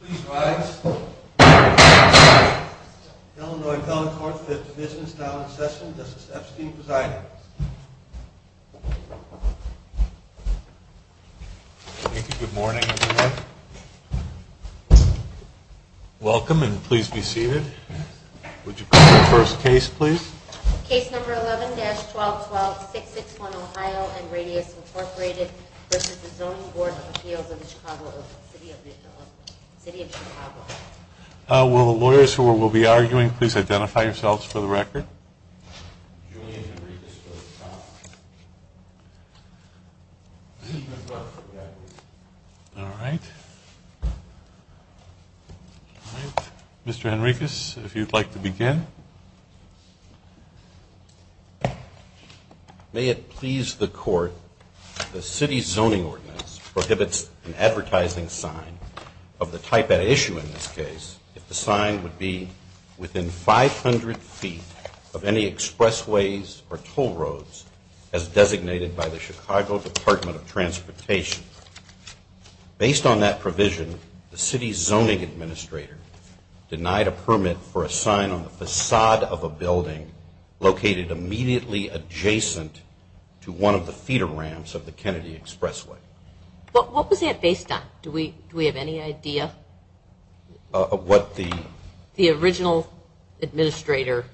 Please rise. Illinois Telephone Corp. is in business now in session. This is F. Steve Poseidon. Thank you. Good morning everyone. Welcome and please be seated. Would you call the first case please? Case number 11-1212661 Ohio and Radius Incorporated v. Zoning Board of Appeals of the City of Chicago. Will the lawyers who will be arguing please identify themselves for the record? Mr. Henricus, if you'd like to begin. May it please the court, the city's zoning ordinance prohibits an advertising sign of the type at issue in this case if the sign would be within 500 feet of any expressways or toll roads as designated by the Chicago Department of Transportation. Based on that provision, the city's zoning administrator denied a permit for a sign on the facade of a building located immediately adjacent to one of the feeder ramps of the Kennedy Expressway. What was that based on? Do we have any idea? Of what the... The original administrator...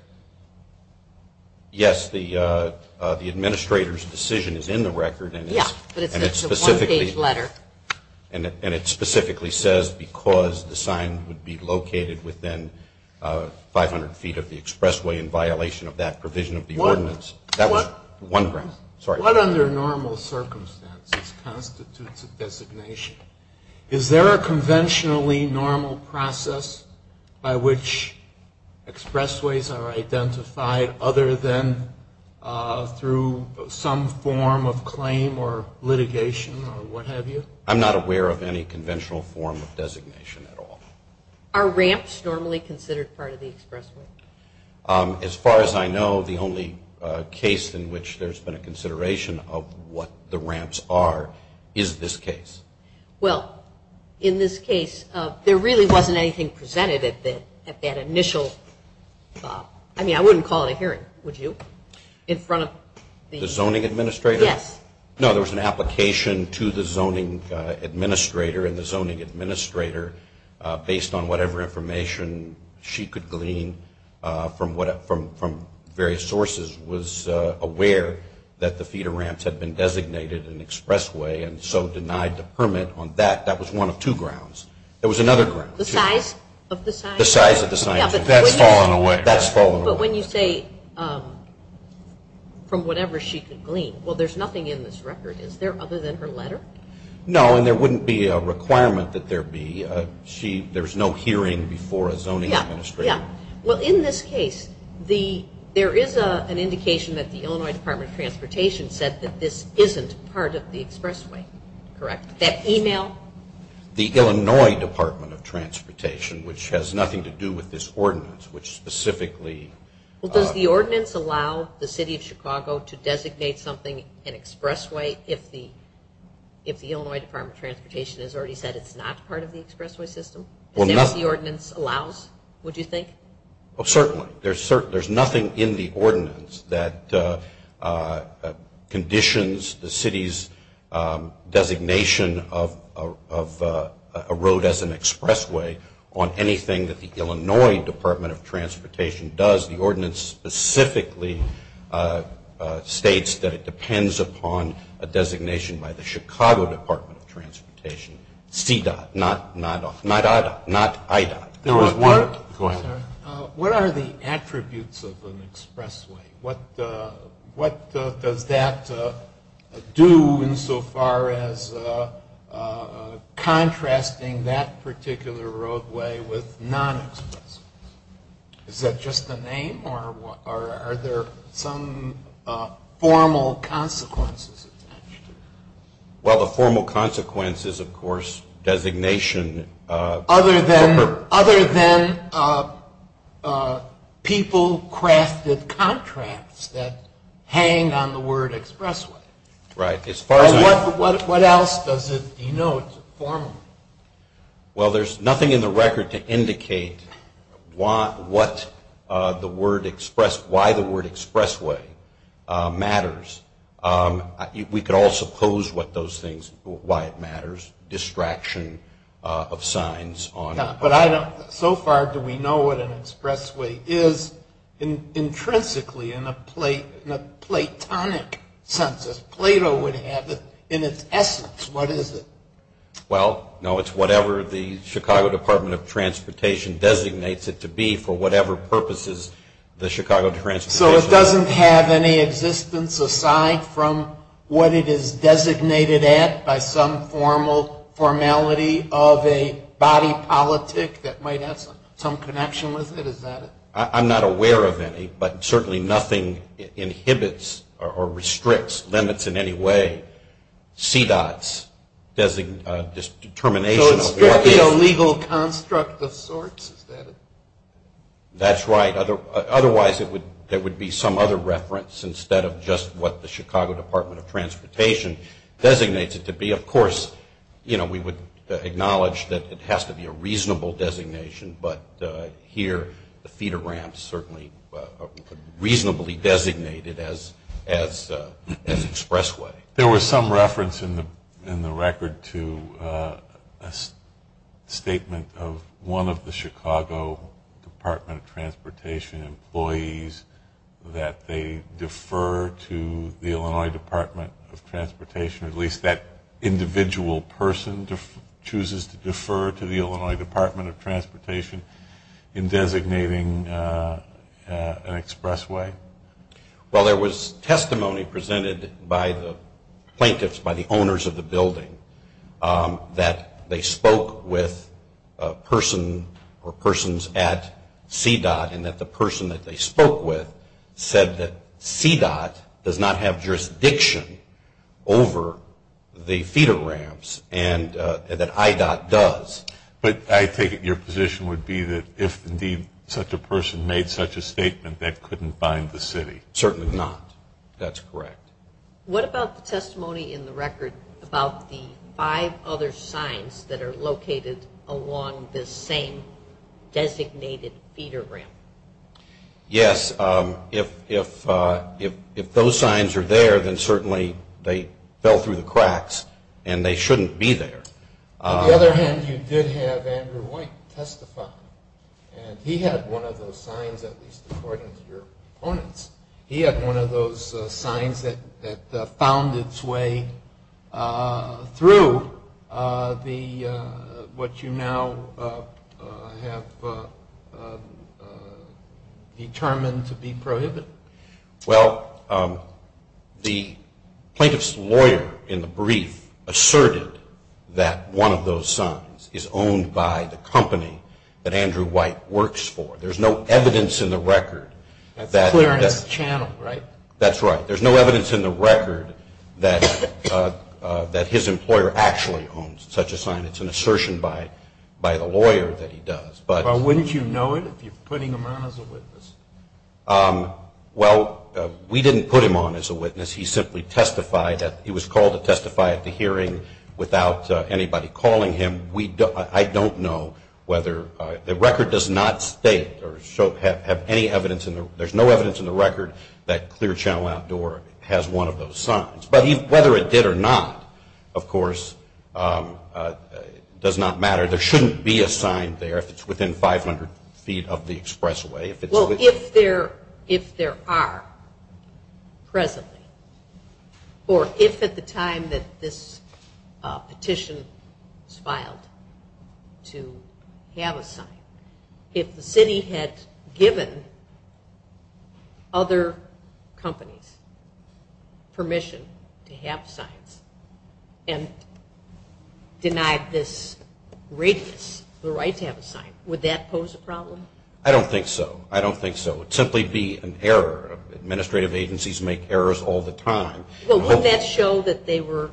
Yes, the administrator's decision is in the record. Yes, but it's a one page letter. And it specifically says because the sign would be located within 500 feet of the expressway in violation of that provision of the ordinance. One under normal circumstances constitutes a designation. Is there a conventionally normal process by which expressways are identified other than through some form of claim or litigation or what have you? I'm not aware of any conventional form of designation at all. Are ramps normally considered part of the expressway? As far as I know, the only case in which there's been a consideration of what the ramps are is this case. Well, in this case, there really wasn't anything presented at that initial... I mean, I wouldn't call it here, would you? In front of the... The zoning administrator? Yes. No, there was an application to the zoning administrator and the zoning administrator based on whatever information she could glean from various sources was aware that the feeder ramps had been designated an expressway and so denied the permit on that. That was one of two grounds. There was another ground. The size of the sign? The size of the sign. That's fallen away. That's fallen away. But when you say from whatever she could glean, well, there's nothing in this record. Is there other than her letter? No, and there wouldn't be a requirement that there be. There's no hearing before a zoning administrator. Yeah. Well, in this case, there is an indication that the Illinois Department of Transportation said that this isn't part of the expressway. Correct. That email? The Illinois Department of Transportation, which has nothing to do with this ordinance, which specifically... Well, does the ordinance allow the city of Chicago to designate something an expressway if the Illinois Department of Transportation has already said it's not part of the expressway system? Is the ordinance allowed, would you think? Well, certainly. There's nothing in the ordinance that conditions the city's designation of a road as an expressway on anything that the Illinois Department of Transportation does. The ordinance specifically states that it depends upon a designation by the Chicago Department of Transportation. C-dot, not I-dot. Go ahead. What are the attributes of an expressway? What does that do insofar as contrasting that particular roadway with non-expressways? Is that just the name, or are there some formal consequences? Well, the formal consequences, of course, designation... Other than people crafted contracts that hang on the word expressway. Right. What else does it denote formally? Well, there's nothing in the record to indicate why the word expressway matters. We could all suppose what those things, why it matters. Distraction of signs on... But I don't... So far do we know what an expressway is intrinsically in a platonic sense. If Plato would have it in its essence, what is it? Well, no, it's whatever the Chicago Department of Transportation designates it to be for whatever purposes the Chicago Department of Transportation... So it doesn't have any existence aside from what it is designated at by some formality of a body politic that might have some connection with it, is that it? I'm not aware of any, but certainly nothing inhibits or restricts, limits in any way, C-dots, this determination... So it's strictly a legal construct of sorts, is that it? That's right. Otherwise, there would be some other reference instead of just what the Chicago Department of Transportation designates it to be. Of course, we would acknowledge that it has to be a reasonable designation, but here the feeder ramps certainly are reasonably designated as expressway. There was some reference in the record to a statement of one of the Chicago Department of Transportation employees that they defer to the Illinois Department of Transportation, at least that individual person chooses to defer to the Illinois Department of Transportation in designating an expressway. Well, there was testimony presented by the plaintiffs, by the owners of the building, that they spoke with a person or persons at C-dot and that the person that they spoke with said that C-dot does not have jurisdiction over the feeder ramps and that I-dot does. But I take it your position would be that if indeed such a person made such a statement, that couldn't bind the city. Certainly not. That's correct. What about the testimony in the record about the five other signs that are located along the same designated feeder ramp? Yes. If those signs are there, then certainly they fell through the cracks and they shouldn't be there. On the other hand, you did have Andrew White testify, and he had one of those signs, at least according to your opponents, he had one of those signs that found its way through what you now have determined to be prohibited. Well, the plaintiff's lawyer in the brief asserted that one of those signs is owned by the company that Andrew White works for. There's no evidence in the record that... Clearance channel, right? That's right. There's no evidence in the record that his employer actually owns such a sign. It's an assertion by the lawyer that he does. Why wouldn't you know it if you're putting him on as a witness? Well, we didn't put him on as a witness. He simply testified. He was called to testify at the hearing without anybody calling him. I don't know whether... The record does not state or have any evidence... There's no evidence in the record that Clear Channel Outdoor has one of those signs. But whether it did or not, of course, does not matter. There shouldn't be a sign there if it's within 500 feet of the expressway. Well, if there are presently, or if at the time that this petition was filed to have a sign, if the city had given other companies permission to have signs and denied this rate the right to have a sign, would that pose a problem? I don't think so. I don't think so. It would simply be an error. Administrative agencies make errors all the time. Well, wouldn't that show that they were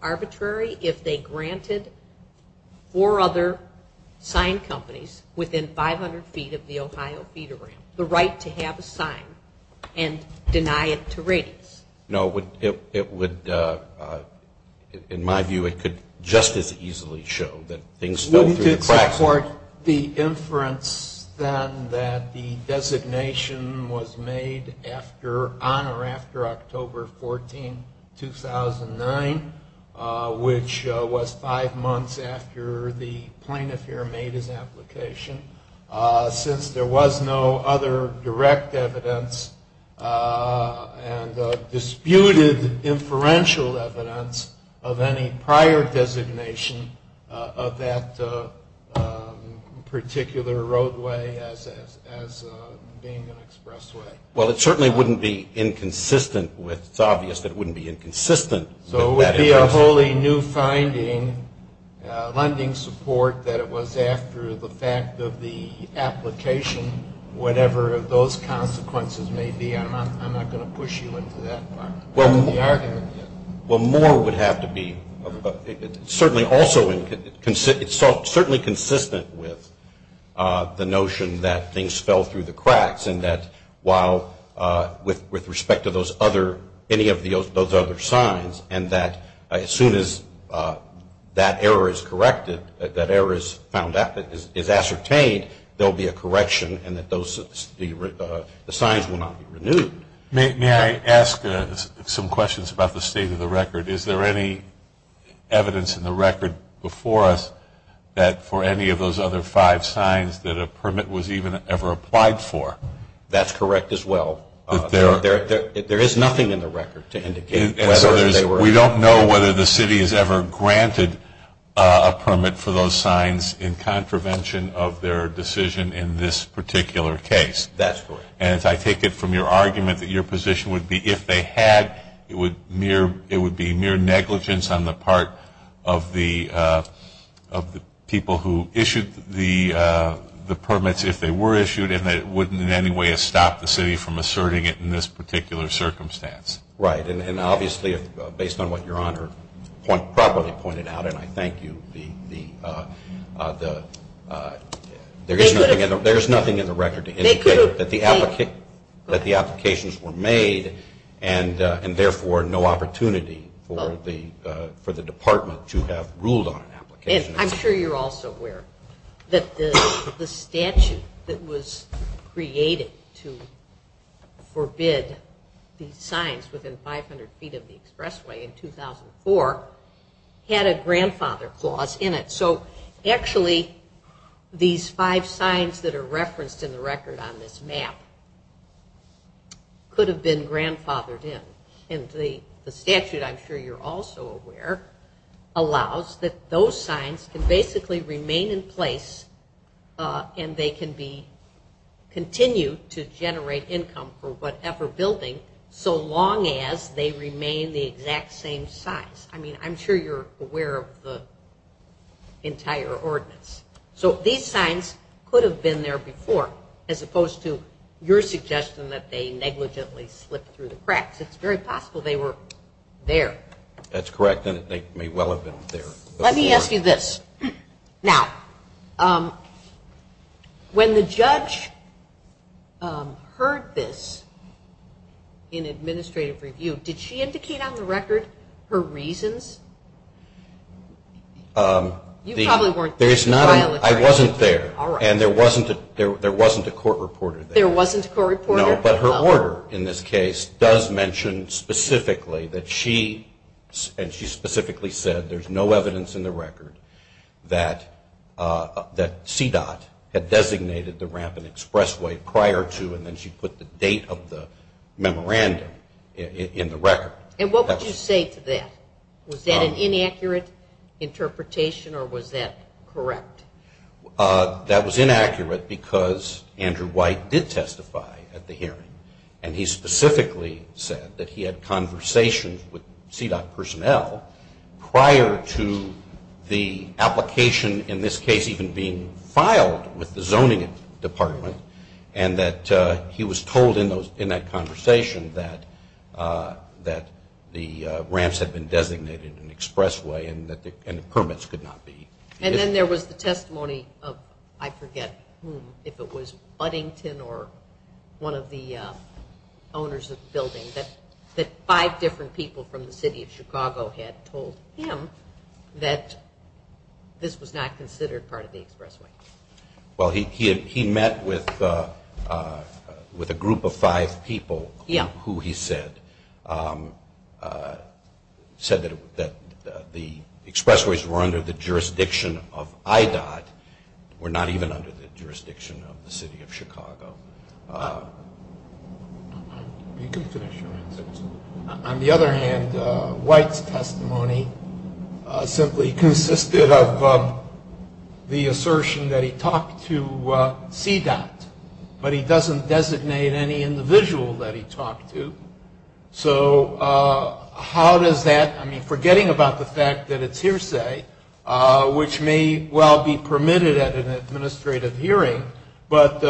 arbitrary if they granted four other sign companies within 500 feet of the Ohio Theater the right to have a sign and deny it to ratings? No. It would, in my view, it could just as easily show that things don't... Report the inference, then, that the designation was made on or after October 14, 2009, which was five months after the plaintiff here made his application. Since there was no other direct evidence and disputed inferential evidence of any prior designation of that particular roadway as being an expressway. Well, it certainly wouldn't be inconsistent with... It's obvious that it wouldn't be inconsistent. So it would be a wholly new finding, lending support, that it was after the fact of the application, whatever those consequences may be. I'm not going to push you into that. Well, more would have to be certainly consistent with the notion that things fell through the cracks and that while with respect to any of those other signs and that as soon as that error is corrected, that error is ascertained, there will be a correction and that the signs will not be renewed. May I ask some questions about the state of the record? Is there any evidence in the record before us that for any of those other five signs that a permit was even ever applied for? That's correct as well. There is nothing in the record to indicate whether they were... We don't know whether the city has ever granted a permit for those signs in contravention of their decision in this particular case. That's correct. And if I take it from your argument that your position would be if they had, it would be mere negligence on the part of the people who issued the permits if they were issued and that it wouldn't in any way have stopped the city from asserting it in this particular circumstance. Right. And obviously, based on what Your Honor properly pointed out, and I thank you, there is nothing in the record to indicate that the applications were made and therefore no opportunity for the department to have ruled on an application. I'm sure you're also aware that the statute that was created to forbid these signs within 500 feet of the expressway in 2004 had a grandfather clause in it. So actually, these five signs that are referenced in the record on this map could have been grandfathered in. And the statute, I'm sure you're also aware, allows that those signs can basically remain in place and they can be continued to generate income for whatever building so long as they remain the exact same size. I mean, I'm sure you're aware of the entire ordinance. So these signs could have been there before as opposed to your suggestion that they negligently slipped through the cracks. It's very possible they were there. That's correct and they may well have been there. Let me ask you this. Now, when the judge heard this in administrative review, did she indicate on the record her reasons? You probably weren't there. I wasn't there. All right. And there wasn't a court reporter there. There wasn't a court reporter. No, but her order in this case does mention specifically that she, and she specifically said there's no evidence in the record that CDOT had designated the ramp and expressway prior to and then she put the date of the memorandum in the record. And what would you say to that? Was that an inaccurate interpretation or was that correct? That was inaccurate because Andrew White did testify at the hearing and he specifically said that he had conversations with CDOT personnel prior to the application, in this case, even being filed with the zoning department and that he was told in that conversation that the ramps had been designated in an expressway and the permits could not be. And then there was the testimony of, I forget who, if it was Buddington or one of the owners of the building, that five different people from the city of Chicago had told him that this was not considered part of the expressway. Well, he met with a group of five people who he said, said that the expressways were under the jurisdiction of IDOT, or not even under the jurisdiction of the city of Chicago. You can finish. On the other hand, White's testimony simply consisted of the assertion that he talked to CDOT, but he doesn't designate any individual that he talked to. So how does that, I mean, forgetting about the fact that it's hearsay, which may well be permitted at an administrative hearing, but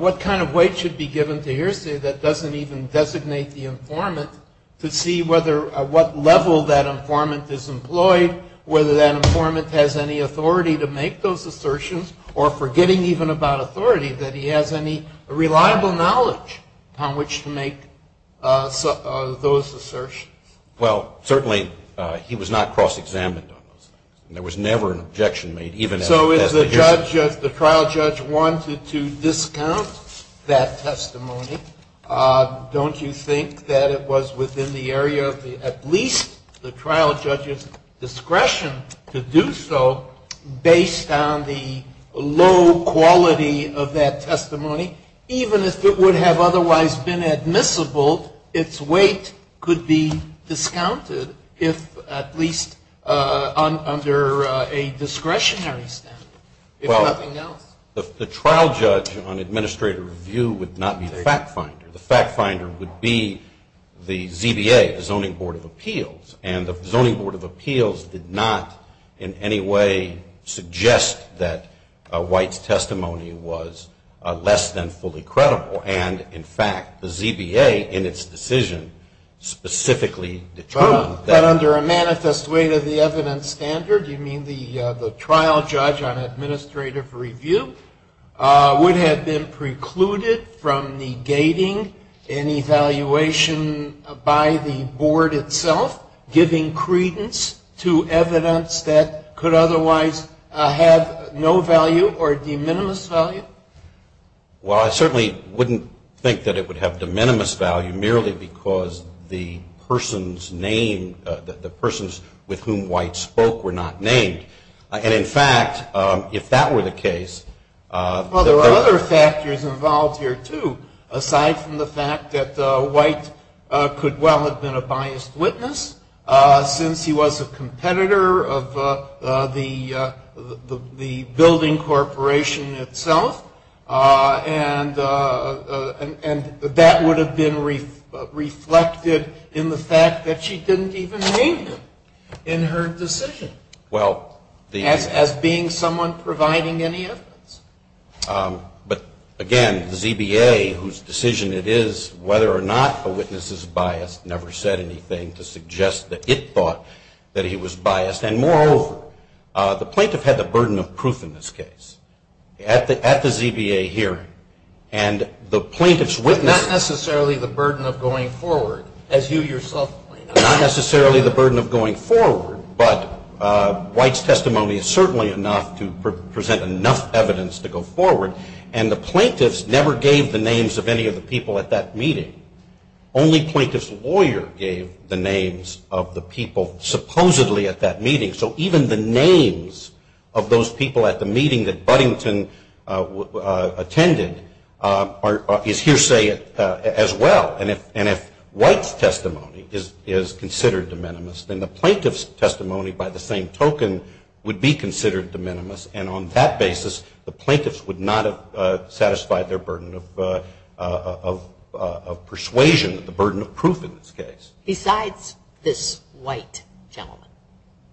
what kind of weight should be given to hearsay that doesn't even designate the informant to see what level that informant is employed, whether that informant has any authority to make those assertions, or forgetting even about authority, that he has any reliable knowledge on which to make those assertions? Well, certainly, he was not cross-examined on this. There was never an objection made, even at a testimony hearing. So if the trial judge wanted to discount that testimony, don't you think that it was within the area of at least the trial judge's discretion to do so, based on the low quality of that testimony? Even if it would have otherwise been admissible, its weight could be discounted if at least under a discretionary standard. Well, the trial judge on administrative review would not be the fact finder. The fact finder would be the ZBA, the Zoning Board of Appeals, and the Zoning Board of Appeals did not in any way suggest that White's testimony was less than fully credible. And, in fact, the ZBA in its decision specifically determined that. So under a manifest weight of the evidence standard, you mean the trial judge on administrative review would have been precluded from negating an evaluation by the board itself? Giving credence to evidence that could otherwise have no value or de minimis value? Well, I certainly wouldn't think that it would have de minimis value, merely because the person's name, the persons with whom White spoke were not named. And, in fact, if that were the case, Well, there are other factors involved here, too, aside from the fact that White could well have been a biased witness since he was a competitor of the building corporation itself. And that would have been reflected in the fact that she didn't even name him in her decision as being someone providing any evidence. But, again, the ZBA, whose decision it is whether or not a witness is biased, never said anything to suggest that it thought that he was biased. And, moreover, the plaintiff had the burden of proof in this case at the ZBA hearing. And the plaintiff's witness Not necessarily the burden of going forward, as you yourself pointed out. Not necessarily the burden of going forward, but White's testimony is certainly enough to present enough evidence to go forward. And the plaintiff never gave the names of any of the people at that meeting. Only the plaintiff's lawyer gave the names of the people, supposedly, at that meeting. So even the names of those people at the meeting that Buddington attended is hearsay as well. And if White's testimony is considered de minimis, then the plaintiff's testimony, by the same token, would be considered de minimis. And on that basis, the plaintiffs would not have satisfied their burden of persuasion, the burden of proof in this case. Besides this White gentleman,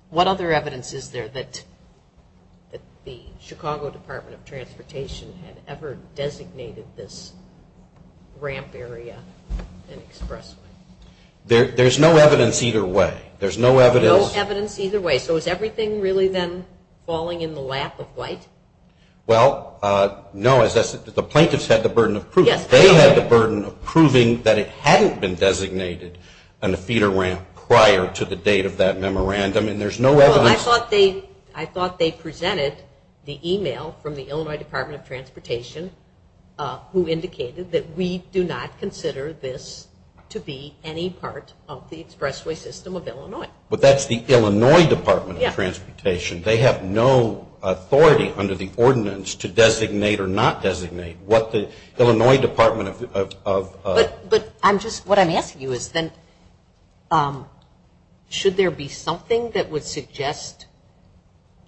what other evidence is there that the Chicago Department of Transportation had ever designated this ramp area an expressway? There's no evidence either way. There's no evidence either way. So has everything really been falling in the lap of White? Well, no. The plaintiffs had the burden of proof. They had the burden of proving that it hadn't been designated on the feeder ramp prior to the date of that memorandum, and there's no evidence. I thought they presented the email from the Illinois Department of Transportation who indicated that we do not consider this to be any part of the expressway system of Illinois. But that's the Illinois Department of Transportation. They have no authority under the ordinance to designate or not designate. But what I'm asking you is should there be something that would suggest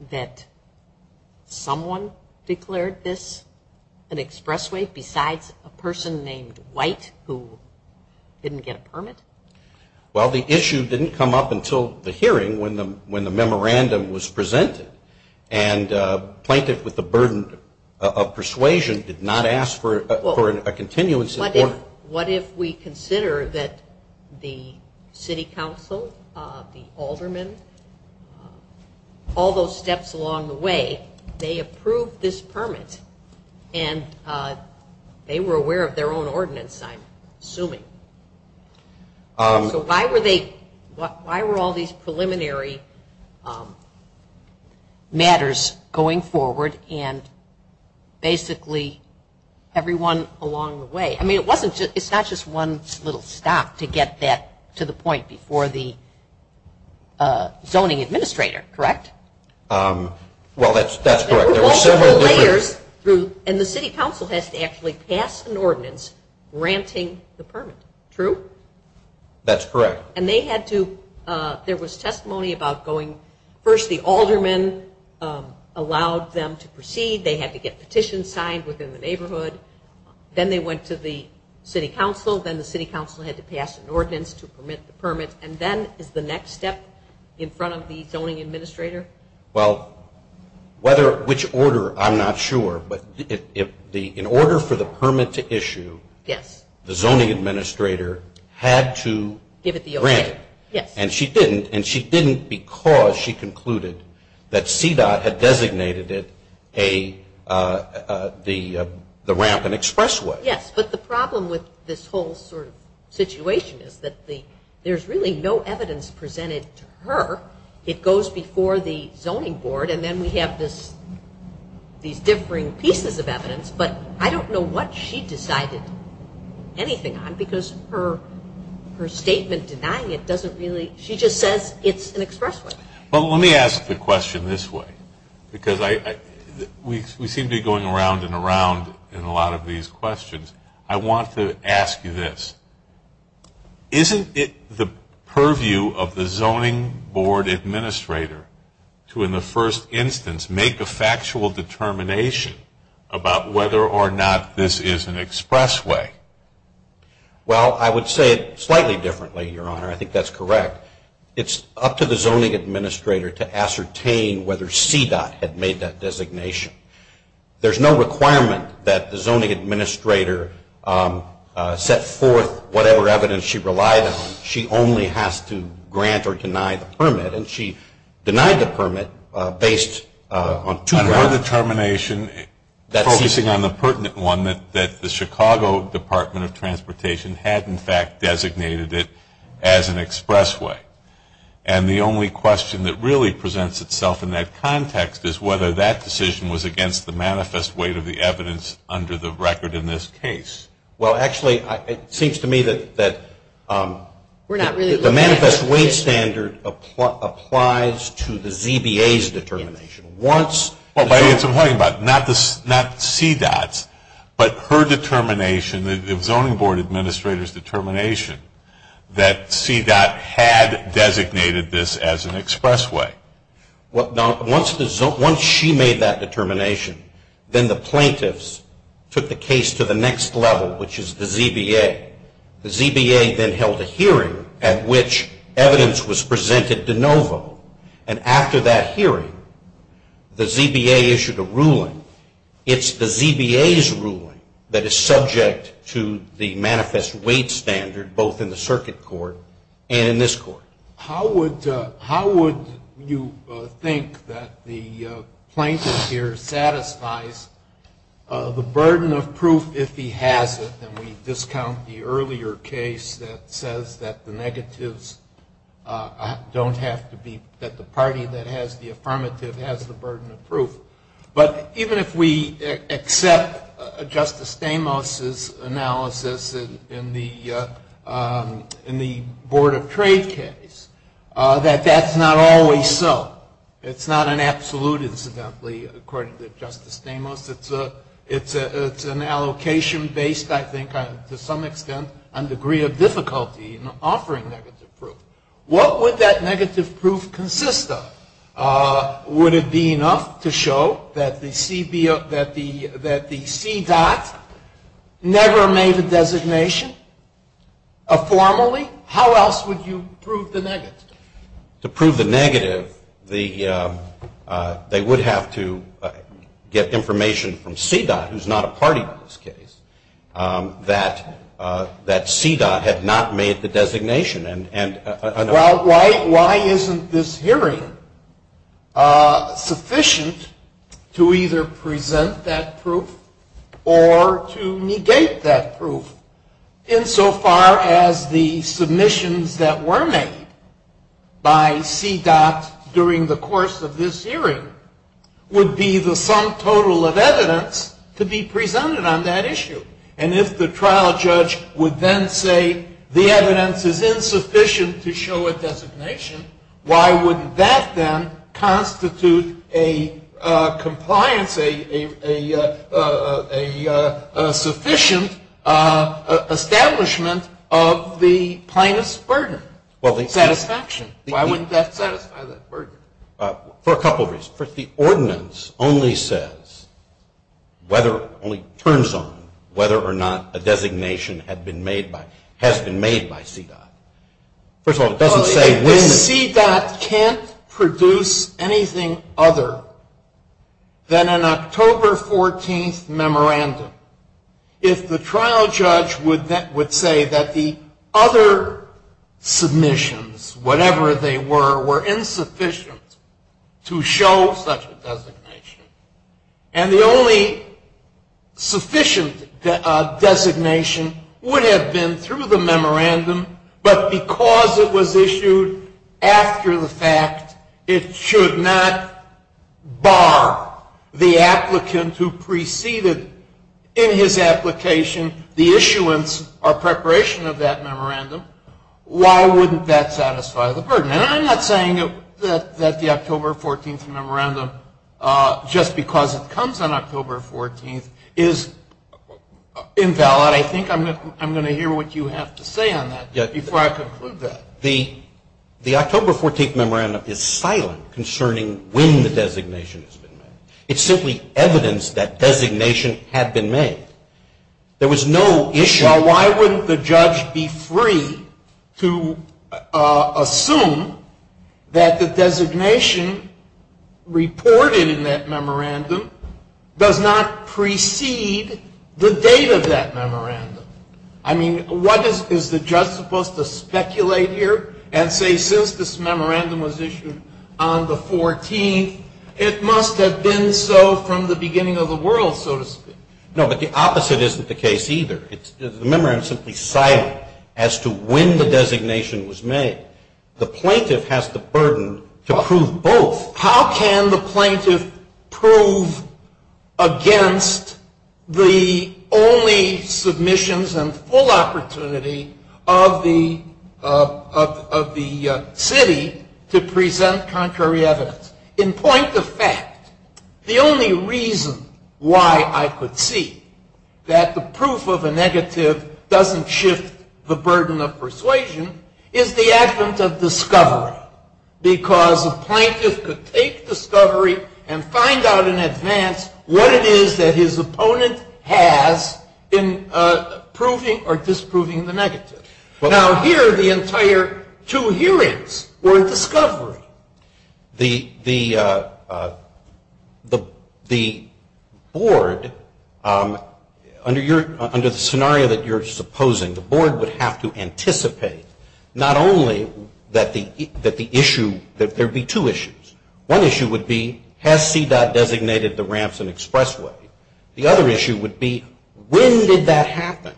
that someone declared this an expressway besides a person named White who didn't get a permit? Well, the issue didn't come up until the hearing when the memorandum was presented, and a plaintiff with the burden of persuasion did not ask for a continuance. What if we consider that the city council, the aldermen, all those steps along the way, they approved this permit, and they were aware of their own ordinance, I'm assuming. So why were all these preliminary matters going forward and basically everyone along the way? I mean, it's not just one little stop to get that to the point before the zoning administrator, correct? Well, that's correct. And the city council has to actually pass an ordinance granting the permit, true? That's correct. And they had to, there was testimony about going, first the aldermen allowed them to proceed. They had to get petitions signed within the neighborhood. Then they went to the city council. Then the city council had to pass an ordinance to permit the permit. And then is the next step in front of the zoning administrator? Well, which order, I'm not sure. But in order for the permit to issue, the zoning administrator had to grant. And she didn't, and she didn't because she concluded that CDOT had designated it the ramp and expressway. Yes, but the problem with this whole situation is that there's really no evidence presented to her. It goes before the zoning board and then we have these differing pieces of evidence. But I don't know what she decided anything on because her statement denying it doesn't really, she just says it's an expressway. Well, let me ask the question this way because we seem to be going around and around in a lot of these questions. I want to ask you this. Isn't it the purview of the zoning board administrator to, in the first instance, make a factual determination about whether or not this is an expressway? Well, I would say it slightly differently, Your Honor. I think that's correct. It's up to the zoning administrator to ascertain whether CDOT had made that designation. There's no requirement that the zoning administrator set forth whatever evidence she relied on. She only has to grant or deny the permit. And she denied the permit based on two grounds. Her determination, focusing on the pertinent one, that the Chicago Department of Transportation had, in fact, designated it as an expressway. And the only question that really presents itself in that context is whether that decision was against the manifest weight of the evidence under the record in this case. Well, actually, it seems to me that the manifest weight standard applies to the ZBA's determination. Well, that's what I'm talking about, not CDOT's, but her determination, the zoning board administrator's determination that CDOT had designated this as an expressway. Now, once she made that determination, then the plaintiffs took the case to the next level, which is the ZBA. The ZBA then held a hearing at which evidence was presented de novo. And after that hearing, the ZBA issued a ruling. It's the ZBA's ruling that is subject to the manifest weight standard, both in the circuit court and in this court. How would you think that the plaintiff here satisfies the burden of proof if he has it? And we discount the earlier case that says that the party that has the affirmative has the burden of proof. But even if we accept Justice Stamos' analysis in the Board of Trade case, that that's not always so. It's not an absolute, incidentally, according to Justice Stamos. It's an allocation based, I think, to some extent, on degree of difficulty in offering negative proof. What would that negative proof consist of? Would it be enough to show that the CDOT never made a designation formally? How else would you prove the negative? To prove the negative, they would have to get information from CDOT, who's not a party in this case, that CDOT had not made the designation. Why isn't this hearing sufficient to either present that proof or to negate that proof? Insofar as the submissions that were made by CDOT during the course of this hearing would be the sum total of evidence to be presented on that issue. And if the trial judge would then say the evidence is insufficient to show a designation, why would that then constitute a compliance, a sufficient establishment of the plaintiff's burden of satisfaction? Why wouldn't that satisfy that burden? For a couple of reasons. First, the ordinance only says, only turns on, whether or not a designation has been made by CDOT. First of all, it doesn't say when. When CDOT can't produce anything other than an October 14th memorandum, if the trial judge would say that the other submissions, whatever they were, were insufficient to show such a designation. And the only sufficient designation would have been through the memorandum, but because it was issued after the fact, it should not bar the applicant who preceded in his application the issuance or preparation of that memorandum. Why wouldn't that satisfy the burden? And I'm not saying that the October 14th memorandum, just because it comes on October 14th, is invalid. But I think I'm going to hear what you have to say on that before I conclude that. The October 14th memorandum is silent concerning when the designation has been made. It's simply evidence that designations have been made. There was no issue. Now, why wouldn't the judge be free to assume that the designation reported in that memorandum does not precede the date of that memorandum? I mean, what is the judge supposed to speculate here and say, since this memorandum was issued on the 14th, it must have been so from the beginning of the world, so to speak? No, but the opposite isn't the case either. The memorandum is simply silent as to when the designation was made. The plaintiff has the burden to prove both. How can the plaintiff prove against the only submissions and full opportunity of the city to present contrary evidence? In point of fact, the only reason why I could see that the proof of a negative doesn't shift the burden of persuasion is the act of discovery. Because the plaintiff could take discovery and find out in advance what it is that his opponent has in proving or disproving the negative. Now, here the entire two hearings were discovery. The board, under the scenario that you're supposing, the board would have to anticipate not only that there would be two issues. One issue would be, has CDOT designated the ramps and expressway? The other issue would be, when did that happen?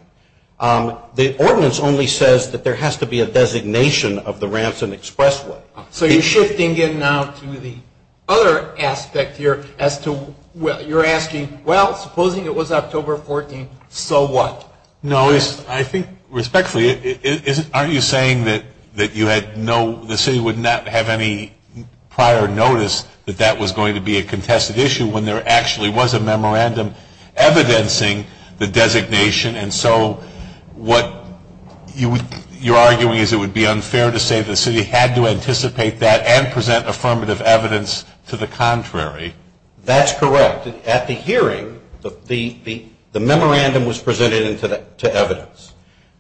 The ordinance only says that there has to be a designation of the ramps and expressway. So you're shifting in now to the other aspect here as to whether you're asking, well, supposing it was October 14th, so what? No, I think respectfully, aren't you saying that you had no, the city would not have any prior notice that that was going to be a contested issue when there actually was a memorandum evidencing the designation? And so what you're arguing is it would be unfair to say the city had to anticipate that and present affirmative evidence to the contrary. That's correct. At the hearing, the memorandum was presented to evidence.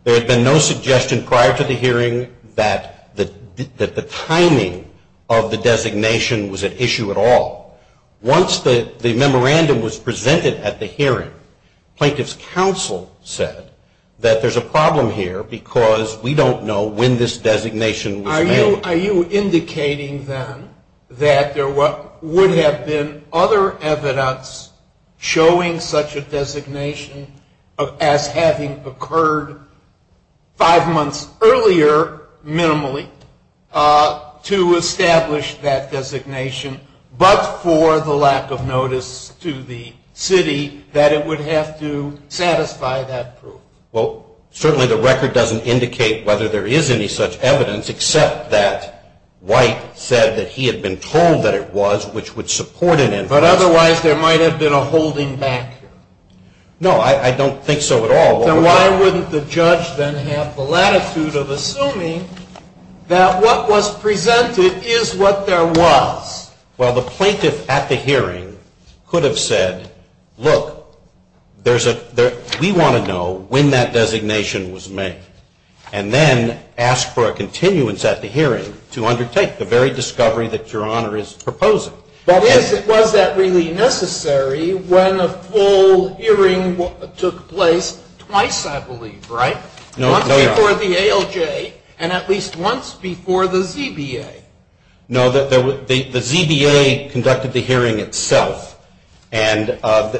There had been no suggestion prior to the hearing that the timing of the designation was an issue at all. Once the memorandum was presented at the hearing, plaintiff's counsel said that there's a problem here because we don't know when this designation was made. Are you indicating then that there would have been other evidence showing such a designation as having occurred five months earlier, minimally, to establish that designation, but for the lack of notice to the city that it would have to satisfy that proof? Well, certainly the record doesn't indicate whether there is any such evidence, except that White said that he had been told that it was, which would support it. But otherwise, there might have been a holding back here. No, I don't think so at all. Then why wouldn't the judge then have the latitude of assuming that what was presented is what there was? Well, the plaintiff at the hearing could have said, look, we want to know when that designation was made, and then ask for a continuance at the hearing to undertake the very discovery that Your Honor is proposing. But was that really necessary when the full hearing took place twice, I believe, right? No, Your Honor. Once before the ALJ and at least once before the ZBA. No, the ZBA conducted the hearing itself, and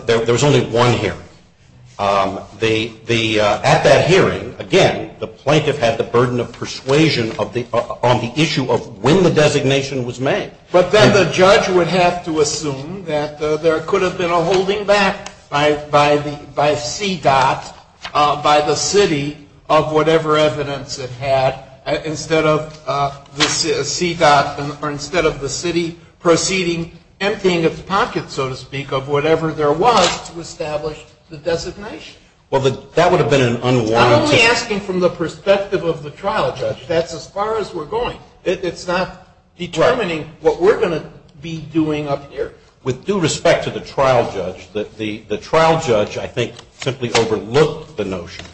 there was only one hearing. At that hearing, again, the plaintiff had the burden of persuasion on the issue of when the designation was made. But then the judge would have to assume that there could have been a holding back by CDOT, by the city of whatever evidence it had, instead of the city proceeding, emptying its pockets, so to speak, of whatever there was to establish the designation. Well, that would have been an unwarranted... I'm only asking from the perspective of the trial judge. That's as far as we're going. It's not determining what we're going to be doing up here. With due respect to the trial judge, the trial judge, I think, simply overlooked the notion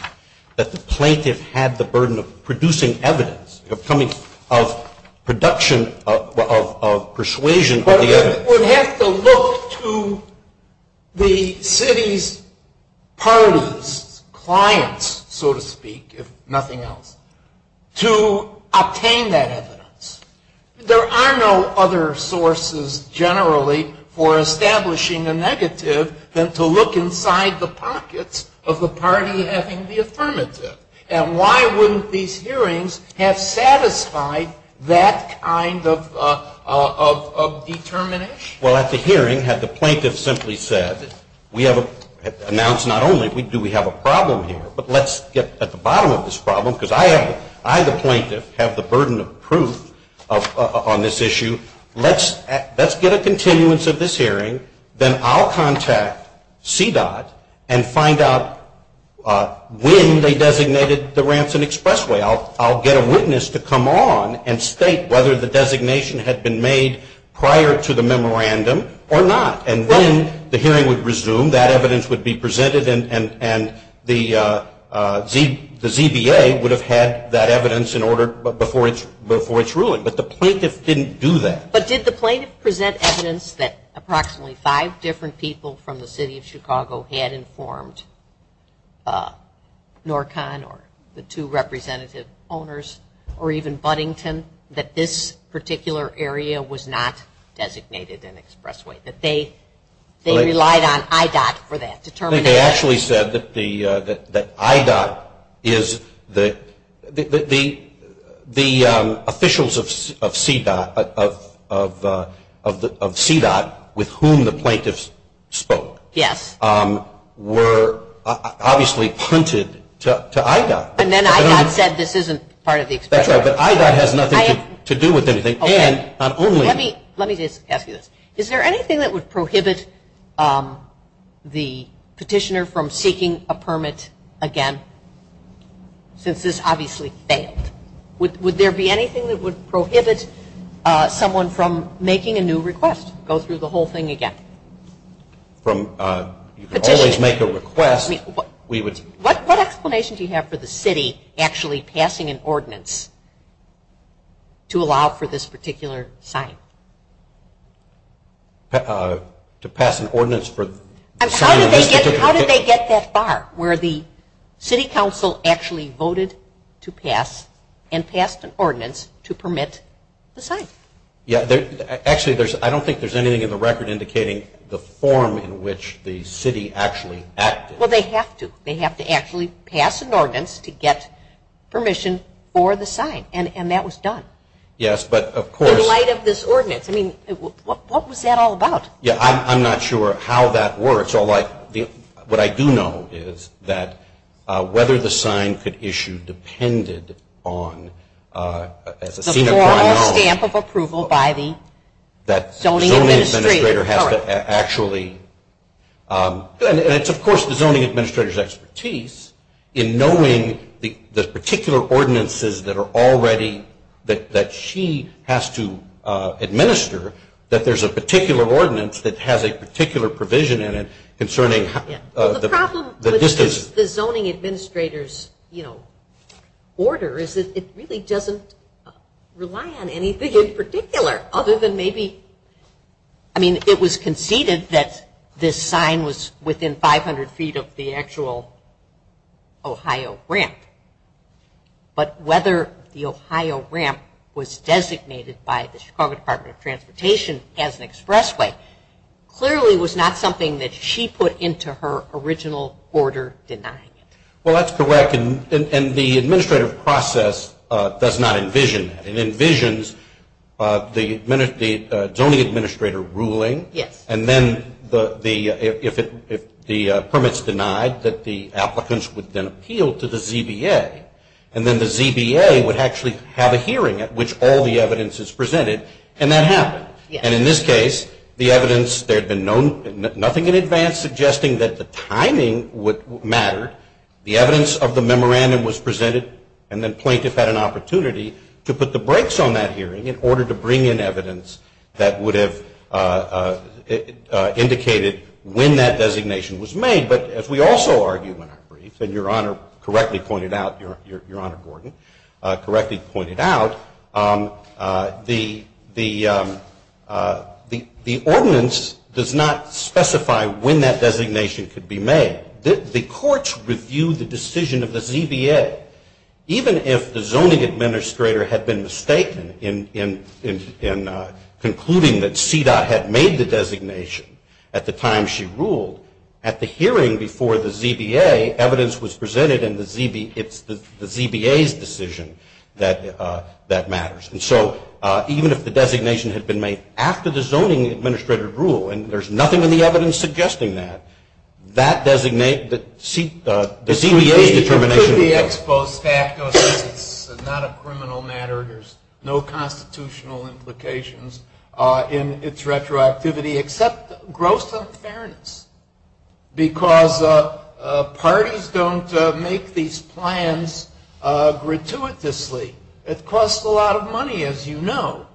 that the plaintiff had the burden of producing evidence, of production of persuasion of the evidence. The plaintiff would have to look to the city's parties, clients, so to speak, if nothing else, to obtain that evidence. There are no other sources, generally, for establishing a negative than to look inside the pockets of the party having the affirmative. And why wouldn't these hearings have satisfied that kind of determination? Well, at the hearing, had the plaintiff simply said, we have announced not only do we have a problem here, but let's get at the bottom of this problem, because I, the plaintiff, have the burden of proof on this issue. Then I'll contact CDOT and find out when they designated the Ransom Expressway. I'll get a witness to come on and state whether the designation had been made prior to the memorandum or not. And then the hearing would resume. That evidence would be presented, and the ZBA would have had that evidence in order before its ruling. But the plaintiff didn't do that. But did the plaintiff present evidence that approximately five different people from the city of Chicago had informed NORCON or the two representative owners or even Buddington that this particular area was not designated an expressway, that they relied on IDOT for that determination? They actually said that IDOT is the officials of CDOT with whom the plaintiff spoke were obviously printed to IDOT. And then IDOT said this isn't part of the expression. That's right, but IDOT has nothing to do with anything. Let me just ask you this. Is there anything that would prohibit the petitioner from seeking a permit again since this obviously failed? Would there be anything that would prohibit someone from making a new request, go through the whole thing again? You can always make a request. What explanation do you have for the city actually passing an ordinance to allow for this particular sign? How did they get that far where the city council actually voted to pass and passed an ordinance to permit the sign? Actually, I don't think there's anything in the record indicating the form in which the city actually acted. Well, they have to. They have to actually pass an ordinance to get permission for the sign, and that was done. Yes, but of course. In light of this ordinance. I mean, what was that all about? I'm not sure how that works. What I do know is that whether the sign could issue depended on. The formal stamp of approval by the zoning administrator. Actually, and it's of course the zoning administrator's expertise in knowing the particular ordinances that are already, that she has to administer, that there's a particular ordinance that has a particular provision in it concerning the distance. The problem with the zoning administrator's order is that it really doesn't rely on anything in particular other than maybe. I mean, it was conceded that this sign was within 500 feet of the actual Ohio ramp. But whether the Ohio ramp was designated by the Chicago Department of Transportation as an expressway, clearly was not something that she put into her original order denying it. Well, that's correct, and the administrative process does not envision that. It envisions the zoning administrator ruling. Yes. And then if the permit's denied, that the applicants would then appeal to the ZBA. And then the ZBA would actually have a hearing at which all the evidence is presented, and that happened. And in this case, the evidence, there had been nothing in advance suggesting that the timing would matter. The evidence of the memorandum was presented, and the plaintiff had an opportunity to put the brakes on that hearing in order to bring in evidence that would have indicated when that designation was made. But as we also argue in our brief, and Your Honor correctly pointed out, Your Honor Gordon, correctly pointed out, the ordinance does not specify when that designation could be made. The courts reviewed the decision of the ZBA. Even if the zoning administrator had been mistaken in concluding that CEDAW had made the designation at the time she ruled, at the hearing before the ZBA, evidence was presented in the ZBA's decision that that matters. And so even if the designation had been made after the zoning administrator rule, and there's nothing in the evidence suggesting that, that designates the ZBA determination. The ZBA exposes that as not a criminal matter. There's no constitutional implications in its retroactivity, except gross unfairness, because parties don't make these plans gratuitously. It costs a lot of money, as you know,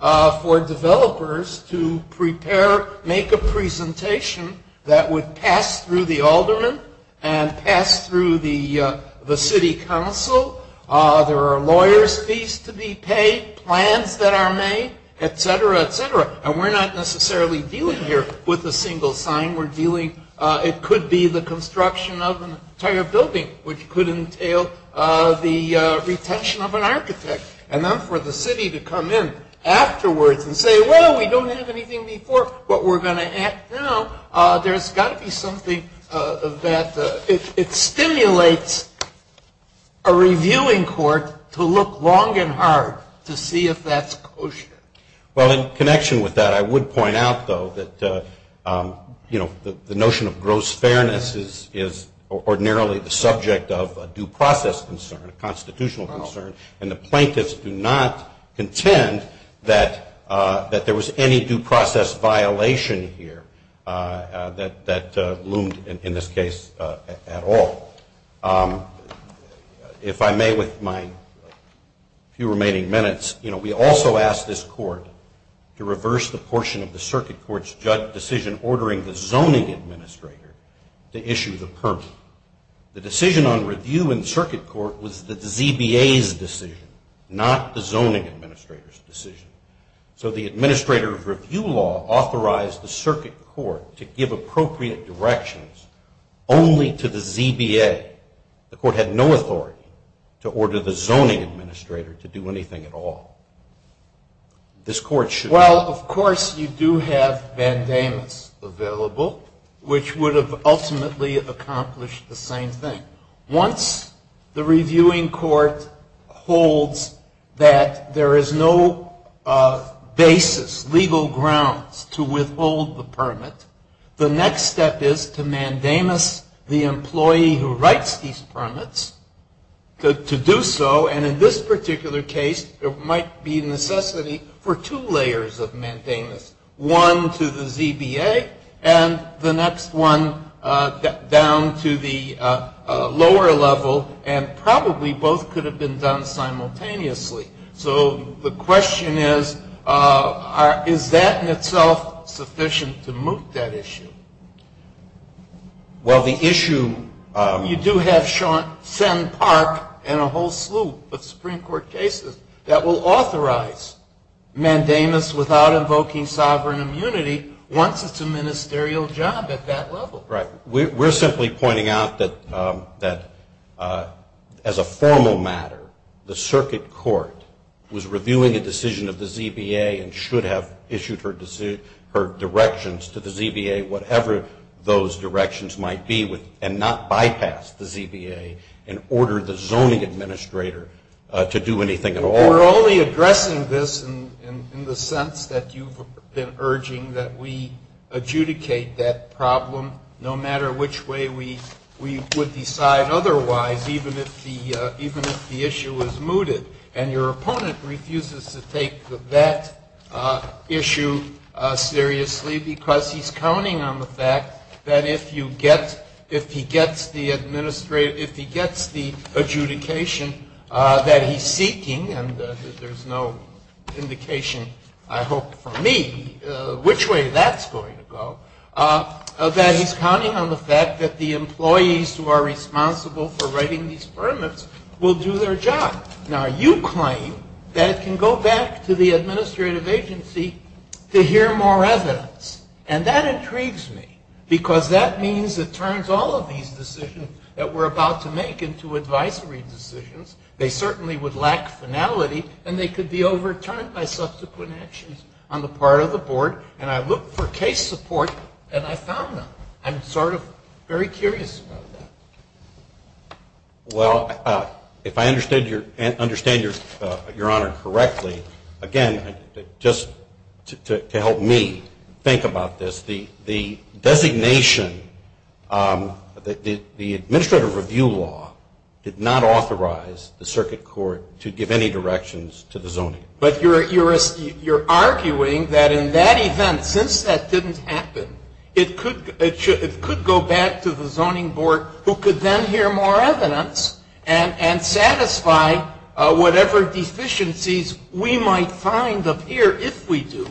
for developers to prepare, make a presentation that would pass through the alderman and pass through the city council. There are lawyer's fees to be paid, plans that are made, et cetera, et cetera. And we're not necessarily dealing here with a single sign. It could be the construction of an entire building, which could entail the retention of an architect. And then for the city to come in afterwards and say, well, we don't have anything before, but we're going to add now, there's got to be something of that. It stimulates a reviewing court to look long and hard to see if that's kosher. Well, in connection with that, I would point out, though, that the notion of gross fairness is ordinarily the subject of a due process concern, a constitutional concern, and the plaintiffs do not contend that there was any due process violation here that loomed in this case at all. If I may, with my few remaining minutes, you know, we also asked this court to reverse the portion of the circuit court's judge decision ordering the zoning administrator to issue the permit. The decision on review in circuit court was the ZBA's decision, not the zoning administrator's decision. So the administrator's review law authorized the circuit court to give appropriate directions only to the ZBA. The court had no authority to order the zoning administrator to do anything at all. This court should have. Well, of course, you do have mandamus available, which would have ultimately accomplished the same thing. Once the reviewing court holds that there is no basis, legal grounds, to withhold the permit, the next step is to mandamus the employee who writes these permits to do so, and in this particular case there might be necessity for two layers of mandamus, one to the ZBA and the next one down to the lower level, and probably both could have been done simultaneously. So the question is, is that in itself sufficient to move that issue? Well, the issue... You do have Senn Park and a whole slew of Supreme Court cases that will authorize mandamus without invoking sovereign immunity once it's a ministerial job at that level. We're simply pointing out that as a formal matter, the circuit court was reviewing a decision of the ZBA and should have issued her directions to the ZBA, whatever those directions might be, and not bypassed the ZBA and ordered the zoning administrator to do anything at all. We're only addressing this in the sense that you've been urging that we adjudicate that problem, no matter which way we would decide otherwise, even if the issue is mooted, and your opponent refuses to take that issue seriously because he's counting on the fact that if he gets the adjudication that he's seeking, and there's no indication, I hope, for me which way that's going to go, that he's counting on the fact that the employees who are responsible for writing these permits will do their job. Now, you claim that it can go back to the administrative agency to hear more evidence, and that intrigues me because that means it turns all of these decisions that we're about to make into advisory decisions. They certainly would lack finality, and they could be overturned by subsequent actions on the part of the board, and I looked for case support, and I found them. I'm sort of very curious about that. Well, if I understand your honor correctly, again, just to help me think about this, the designation, the administrative review law, did not authorize the circuit court to give any directions to the zoning. But you're arguing that in that event, since that didn't happen, it could go back to the zoning board, who could then hear more evidence and satisfy whatever deficiencies we might find up here if we do,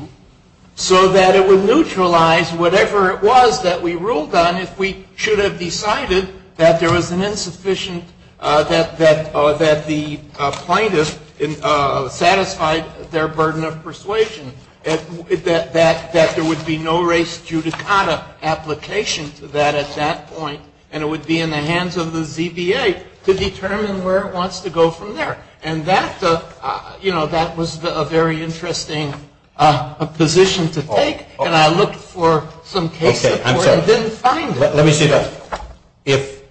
so that it would neutralize whatever it was that we ruled on if we should have decided that there was an insufficient, that the plaintiff satisfied their burden of persuasion, that there would be no res judicata application to that at that point, and it would be in the hands of the ZBA to determine where it wants to go from there. And that's a, you know, that was a very interesting position to take, and I looked for some cases where they didn't find that. Let me say that.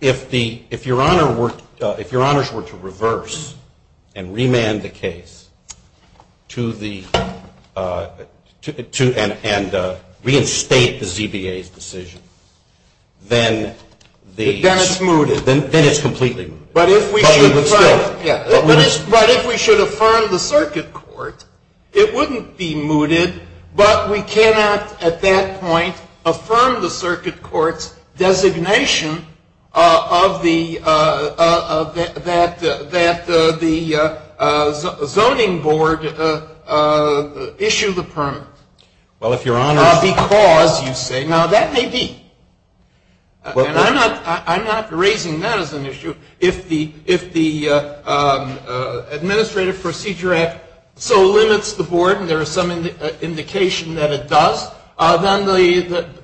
If your honors were to reverse and remand the case to the, and reinstate the ZBA's decision, then it's completely mooted. But if we should affirm the circuit court, it wouldn't be mooted, but we cannot at that point affirm the circuit court's designation of the, that the voting board issue the permit. Well, if your honors. Because, you say, now that may be. And I'm not raising that as an issue. If the Administrative Procedure Act so limits the board and there is some indication that it does,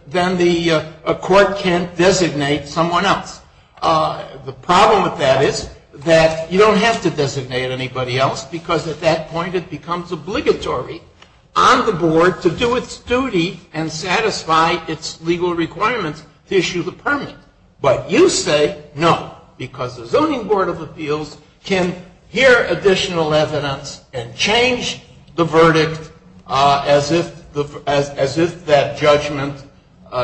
then the court can't designate someone else. The problem with that is that you don't have to designate anybody else, because at that point it becomes obligatory on the board to do its duty and satisfy its legal requirements to issue the permit. But you say no, because the voting board of the field can hear additional evidence and change the verdict as if that judgment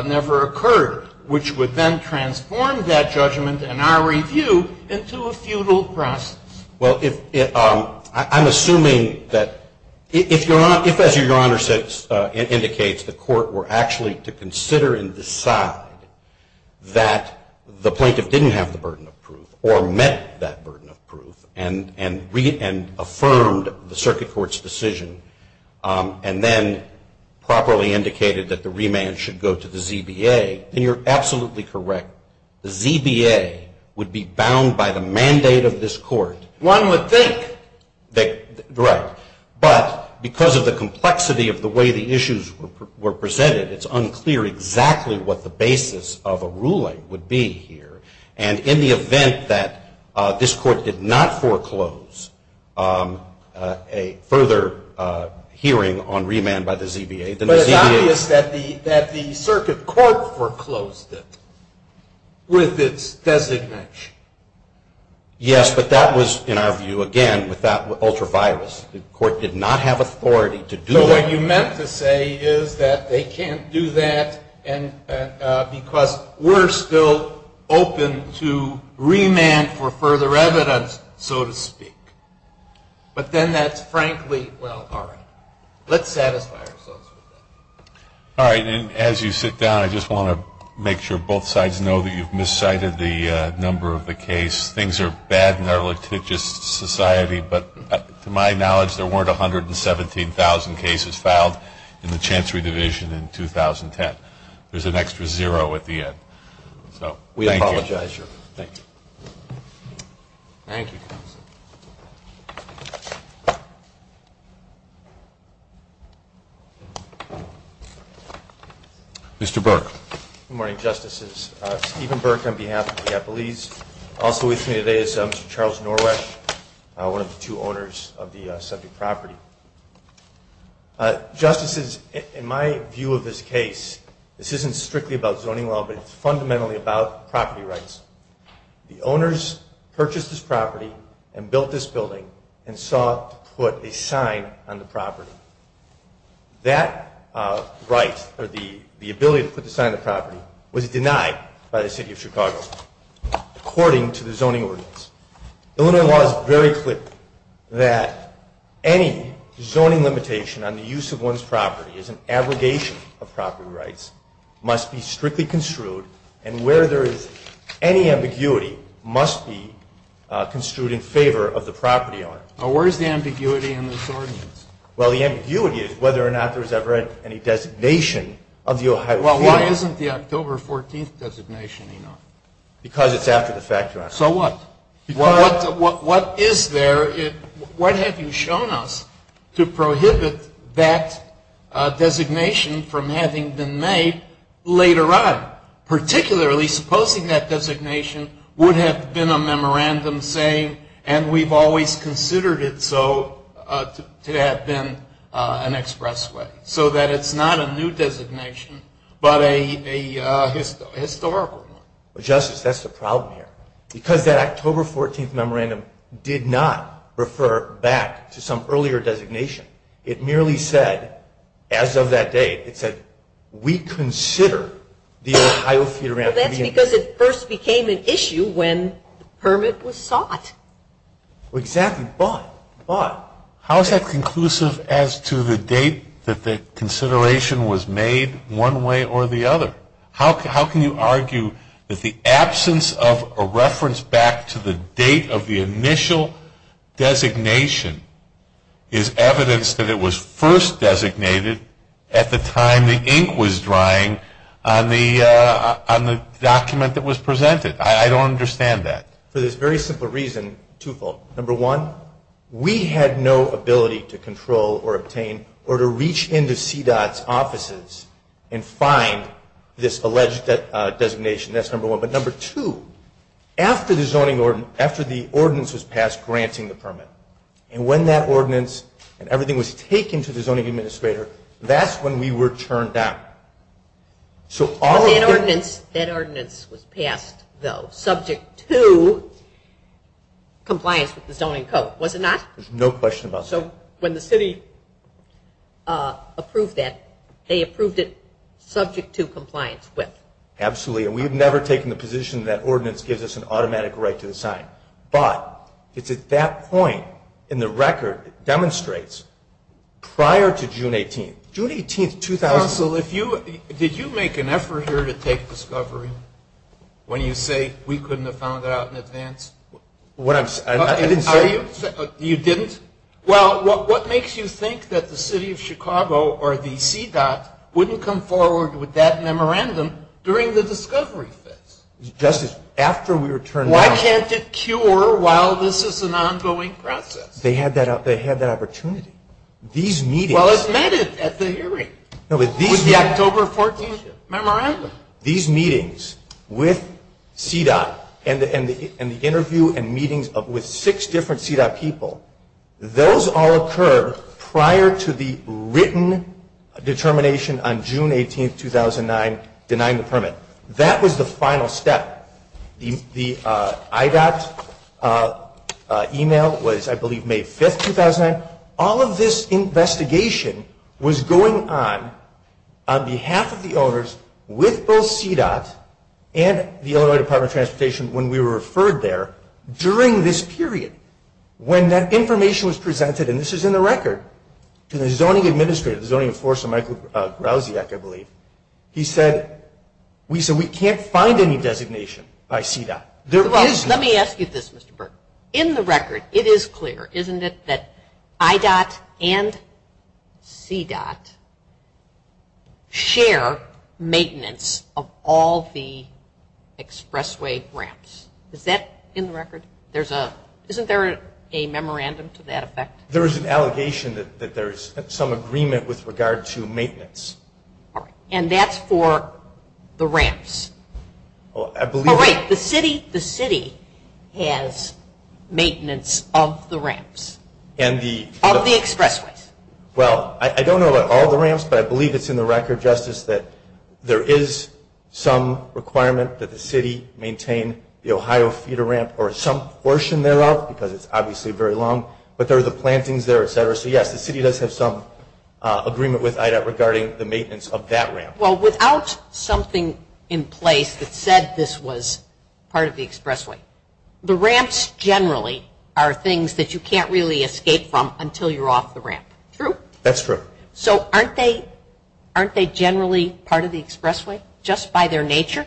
never occurred, which would then transform that judgment in our review into a futile process. Well, I'm assuming that if, as your honors indicates, the court were actually to consider and decide that the plaintiff didn't have the burden of proof or met that burden of proof and reaffirmed the circuit court's decision and then properly indicated that the remand should go to the ZBA, then you're absolutely correct. The ZBA would be bound by the mandate of this court. One would think. Right. But because of the complexity of the way the issues were presented, it's unclear exactly what the basis of a ruling would be here. And in the event that this court did not foreclose a further hearing on remand by the ZBA, But it's obvious that the circuit court foreclosed it with its designation. Yes, but that was, in our view, again, without ultraviolence. The court did not have authority to do that. What you meant to say is that they can't do that because we're still open to remand for further evidence, so to speak. But then that's frankly, well, all right. Let's satisfy ourselves with that. All right. And as you sit down, I just want to make sure both sides know that you've miscited the number of the case. Things are bad in our litigious society, but to my knowledge, there weren't 117,000 cases filed in the Chancery Division in 2010. There's an extra zero at the end. We apologize. Thank you. Mr. Burke. Good morning, Justices. Stephen Burke on behalf of the Japanese. Also with me today is Mr. Charles Norrish, one of the two owners of the subject property. Justices, in my view of this case, this isn't strictly about zoning law, but fundamentally about property rights. The owners purchased this property and built this building and saw it put a sign on the property. That right, or the ability to put the sign on the property, was denied by the city of Chicago, according to the zoning ordinance. Illinois law is very clear that any zoning limitation on the use of one's property as an abrogation of property rights must be strictly construed, and where there is any ambiguity, must be construed in favor of the property owner. Well, the ambiguity is whether or not there was ever any designation of the Ohio State. Well, why isn't the October 14th designation in there? Because it's after the fact, Your Honor. So what? What is there? What have you shown us to prohibit that designation from having been made later on? Particularly, supposing that designation would have been a memorandum saying, and we've always considered it so, to have been an express way. So that it's not a new designation, but a historical one. Justice, that's the problem here. Because that October 14th memorandum did not refer back to some earlier designation. It merely said, as of that date, it said, we consider the Ohio Theater- Well, that's because it first became an issue when permit was sought. Exactly. But. But. How is that conclusive as to the date that the consideration was made, one way or the other? How can you argue that the absence of a reference back to the date of the initial designation is evidence that it was first designated at the time the ink was drying on the document that was presented? I don't understand that. For this very simple reason, twofold. Number one, we had no ability to control or obtain or to reach into CDOT's offices and find this alleged designation. That's number one. That's number one. But number two, after the ordinance was passed granting the permit, and when that ordinance and everything was taken to the zoning administrator, that's when we were turned down. That ordinance was passed, though, subject to compliance with the zoning code, was it not? There's no question about that. So when the city approved that, they approved it subject to compliance. Absolutely. And we've never taken the position that ordinance gives us an automatic right to assign. But it's at that point in the record, it demonstrates prior to June 18th. June 18th, 2000. Counsel, did you make an effort here to take discovery when you say we couldn't have found out in advance? What I'm saying? I didn't tell you. You didn't? Well, what makes you think that the city of Chicago or the CDOT wouldn't come forward with that memorandum during the discovery phase? Justice, after we were turned down. Why can't it cure while this is an ongoing process? They had that opportunity. These meetings. Well, it's met at the hearing. With the October 14th memorandum. These meetings with CDOT and the interview and meetings with six different CDOT people, those all occur prior to the written determination on June 18th, 2009, denying the permit. That was the final step. The IDOT email was, I believe, May 5th, 2009. All of this investigation was going on on behalf of the owners with both CDOT and the Illinois Department of Transportation when we were referred there during this period. When that information was presented, and this is in the record, to the zoning administrator, the Zoning Enforcer Michael Grousy, I believe, he said we can't find any designation by CDOT. Let me ask you this, Mr. Burton. In the record, it is clear, isn't it, that IDOT and CDOT share maintenance of all the expressway ramps. Is that in the record? Isn't there a memorandum to that effect? There is an allegation that there is some agreement with regard to maintenance. And that's for the ramps. Oh, right. The city has maintenance of the ramps, of the expressways. Well, I don't know about all the ramps, but I believe it's in the record, Justice, that there is some requirement that the city maintain the Ohio Theater ramp or some portion thereof, because it's obviously very long, but there are the plantings there, etc. So, yes, the city does have some agreement with IDOT regarding the maintenance of that ramp. Well, without something in place that said this was part of the expressway, the ramps generally are things that you can't really escape from until you're off the ramp. True? That's true. So aren't they generally part of the expressway, just by their nature?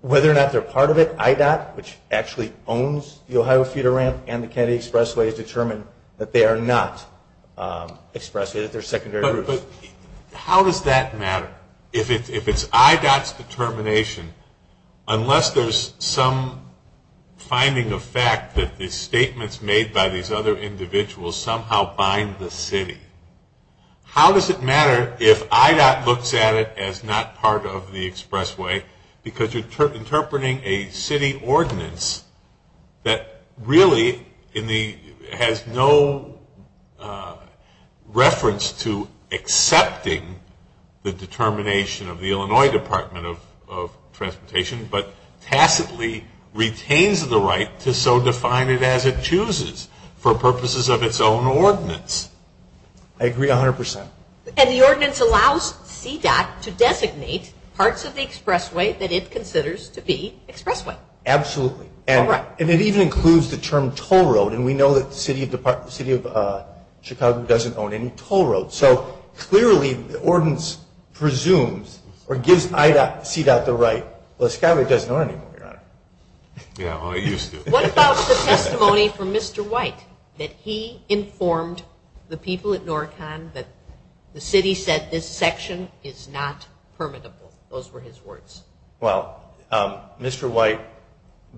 Whether or not they're part of it, IDOT, which actually owns the Ohio Theater ramp and the Kennedy Expressway has determined that they are not expressways. How does that matter? If it's IDOT's determination, unless there's some finding of fact that the statements made by these other individuals somehow bind the city. How does it matter if IDOT looks at it as not part of the expressway, because you're interpreting a city ordinance that really has no reference to accepting the determination of the Illinois Department of Transportation, but tacitly retains the right to so define it as it chooses for purposes of its own ordinance. I agree 100%. And the ordinance allows CDOT to designate parts of the expressway that it considers to be expressways. Absolutely. And it even includes the term toll road, and we know that the city of Chicago doesn't own any toll roads. So clearly the ordinance presumes or gives IDOT, CDOT, the right. Well, Chicago doesn't own any more, Your Honor. Yeah, well it used to. What about the testimony from Mr. White, that he informed the people at NORCON that the city said this section is not permittable. Those were his words. Well, Mr. White,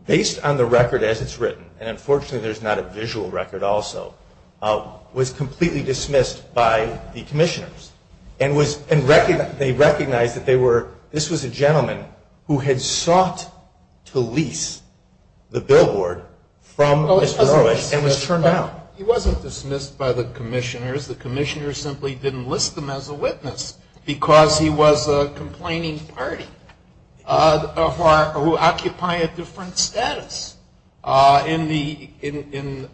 based on the record as it's written, and unfortunately there's not a visual record also, was completely dismissed by the commissioners. They recognized that this was a gentleman who had sought to lease the billboard from Mr. Norwich and was turned down. He wasn't dismissed by the commissioners. The commissioners simply didn't list him as a witness because he was a complaining party who occupied a different status in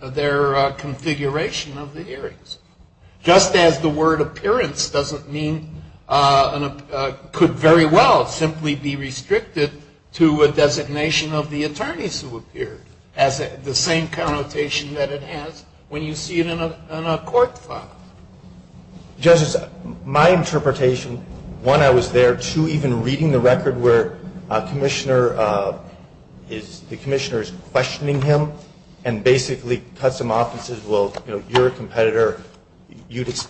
their configuration of the areas. Just as the word appearance could very well simply be restricted to a designation of the attorneys who appeared, as the same connotation that it has when you see it in a court file. Justice, my interpretation, one, I was there. Two, even reading the record where the commissioner is questioning him and basically cuts him off and says, well, your competitor didn't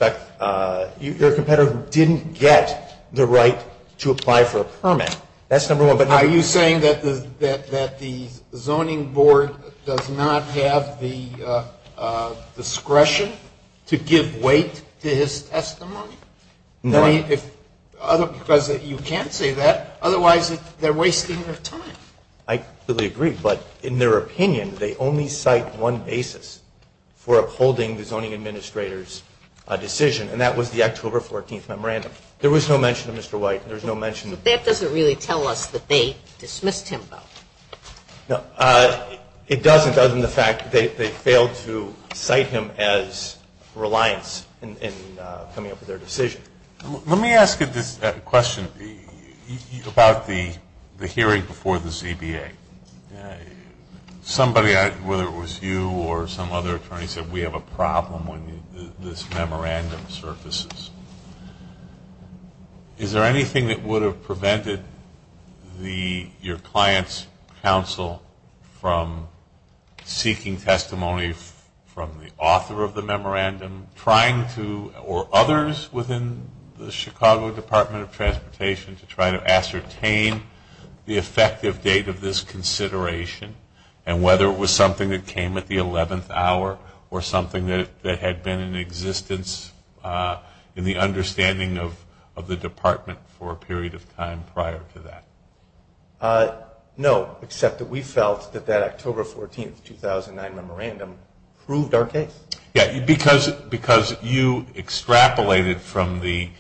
get the right to apply for a permit. That's number one. Are you saying that the zoning board does not have the discretion to give weight to his testimony? No. Because you can't say that. Otherwise, they're wasting their time. I completely agree. But in their opinion, they only cite one basis for upholding the zoning administrator's decision, and that was the October 14th memorandum. There was no mention of Mr. White. That doesn't really tell us that they dismissed him, though. It doesn't, other than the fact that they failed to cite him as reliant in coming up with their decision. Let me ask a question about the hearing before the ZBA. Somebody, whether it was you or some other attorney, said we have a problem when this memorandum surfaces. Is there anything that would have prevented your client's counsel from seeking testimonies from the author of the memorandum, or others within the Chicago Department of Transportation, to try to ascertain the effective date of this consideration, and whether it was something that came at the 11th hour or something that had been in existence in the understanding of the department for a period of time prior to that? No, except that we felt that that October 14th, 2009 memorandum proved our case. Because you extrapolated from the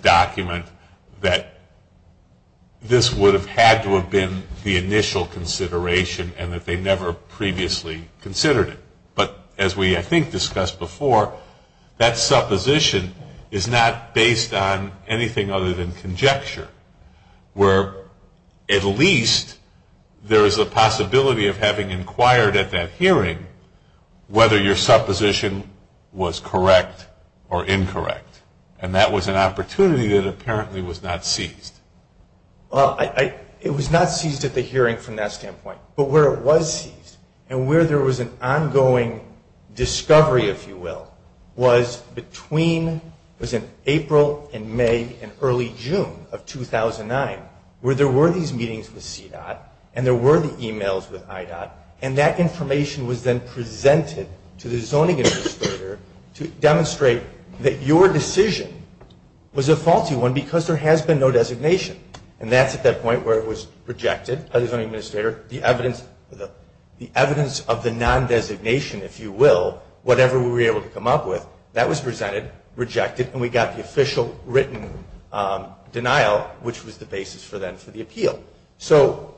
document that this would have had to have been the initial consideration, and that they never previously considered it. But as we, I think, discussed before, that supposition is not based on anything other than conjecture, where at least there is a possibility of having inquired at that hearing whether your supposition was correct or incorrect. And that was an opportunity that apparently was not seized. Well, it was not seized at the hearing from that standpoint. But where it was seized, and where there was an ongoing discovery, if you will, was in April and May and early June of 2009, where there were these meetings with CDOT, and there were the emails with IDOT, and that information was then presented to the zoning administrator to demonstrate that your decision was a faulty one because there has been no designation. And that's at that point where it was rejected by the zoning administrator, the evidence of the non-designation, if you will, whatever we were able to come up with, that was presented, rejected, and we got the official written denial, which was the basis for then for the appeal. So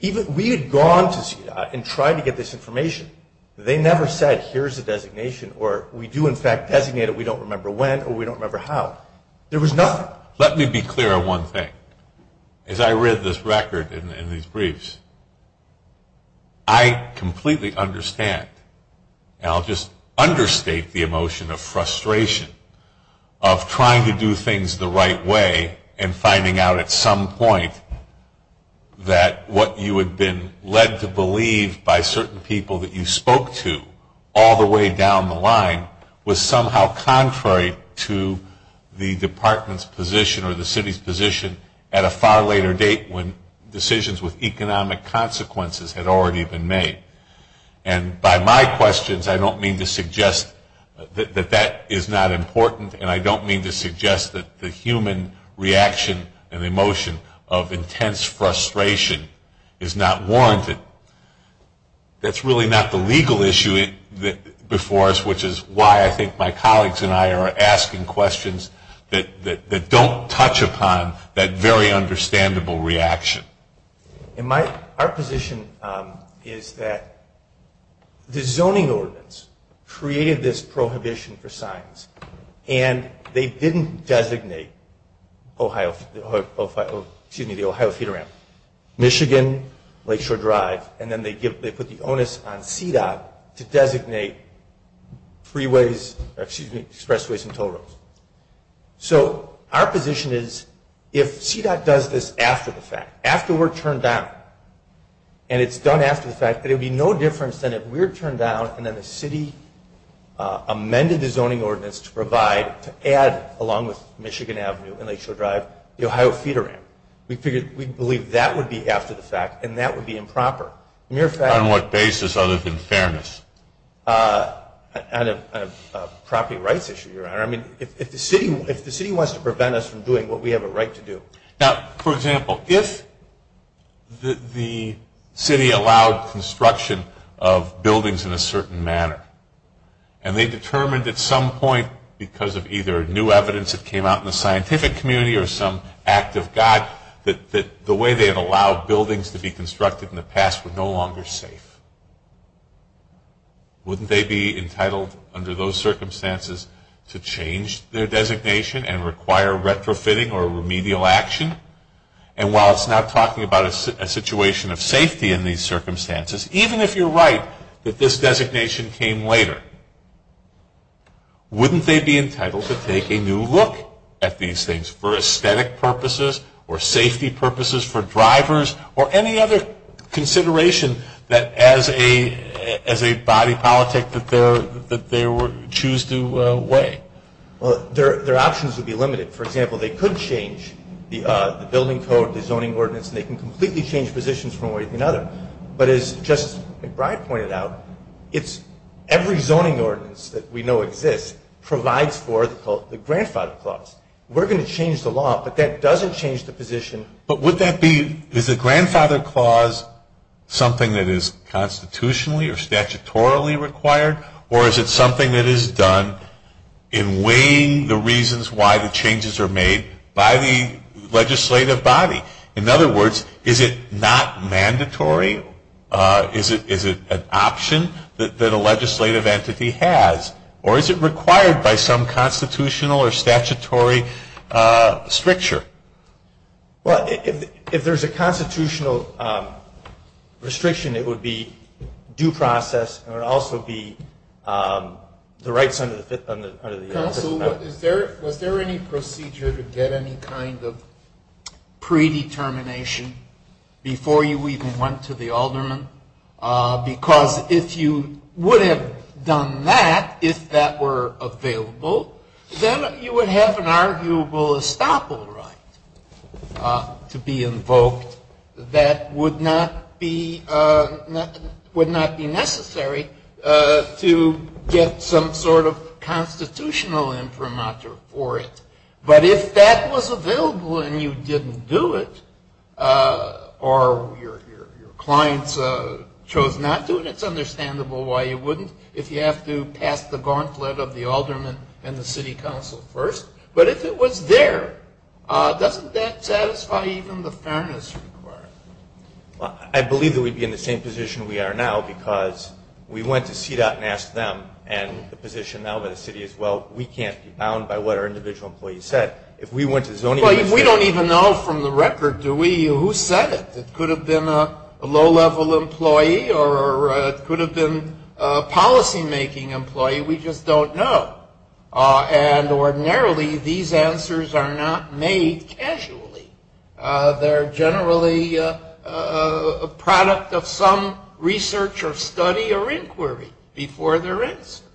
we had gone to CDOT and tried to get this information. They never said, here's the designation, or we do, in fact, designate it. We don't remember when or we don't remember how. There was nothing. Now, let me be clear on one thing. As I read this record in these briefs, I completely understand, and I'll just understate the emotion of frustration of trying to do things the right way and finding out at some point that what you had been led to believe by certain people that you spoke to all the way down the line was somehow contrary to the department's position or the city's position at a far later date when decisions with economic consequences had already been made. And by my questions, I don't mean to suggest that that is not important, and I don't mean to suggest that the human reaction and emotion of intense frustration is not warranted. That's really not the legal issue before us, which is why I think my colleagues and I are asking questions that don't touch upon that very understandable reaction. Our position is that the zoning ordinance created this prohibition for signs, and they didn't designate the Ohio Cedar Ranch, Michigan, Lakeshore Drive, and then they put the onus on CDOT to designate expressways and toll roads. So our position is if CDOT does this after the fact, after we're turned down, and it's done after the fact, that it would be no difference than if we're turned down and then the city amended the zoning ordinance to provide, to add along with Michigan Avenue and Lakeshore Drive, the Ohio Cedar Ranch. We believe that would be after the fact, and that would be improper. On what basis other than fairness? On a property rights issue, your honor. I mean, if the city wants to prevent us from doing what we have a right to do. Now, for example, if the city allowed construction of buildings in a certain manner, and they determined at some point because of either new evidence that came out in the scientific community or some act of God that the way they have allowed buildings to be constructed in the past were no longer safe, wouldn't they be entitled under those circumstances to change their designation and require retrofitting or remedial action? And while it's not talking about a situation of safety in these circumstances, even if you're right that this designation came later, wouldn't they be entitled to take a new look at these things for aesthetic purposes or safety purposes for drivers or any other consideration that as a body politic that they choose to weigh? Well, their options would be limited. For example, they could change the building code, the zoning ordinance, and they can completely change positions from one way to another. But as just Brian pointed out, every zoning ordinance that we know exists provides for the grandfather clause. We're going to change the law, but that doesn't change the position. But would that be the grandfather clause something that is constitutionally or statutorily required, or is it something that is done in weighing the reasons why the changes are made by the legislative body? In other words, is it not mandatory? Is it an option that a legislative entity has? Or is it required by some constitutional or statutory stricture? Well, if there's a constitutional restriction, it would be due process, and it would also be the rights under the Fifth Amendment. Counsel, was there any procedure to get any kind of predetermination before you even went to the alderman? Because if you would have done that, if that were available, then you would have an arguable estoppel right to be invoked that would not be necessary to get some sort of constitutional inframateur forced. But if that was available and you didn't do it, or your client chose not to, it's understandable why you wouldn't if you have to pass the gauntlet of the alderman and the city council first. But if it was there, doesn't that satisfy even the fairness requirement? I believe that we'd be in the same position we are now because we went to CDOT and asked them, and the position now of the city is, well, we can't be bound by what our individual employees said. If we went to zoning, we don't even know from the record, do we? Who said it? It could have been a low-level employee or it could have been a policymaking employee. We just don't know. And ordinarily, these answers are not made casually. They're generally a product of some research or study or inquiry before they're answered.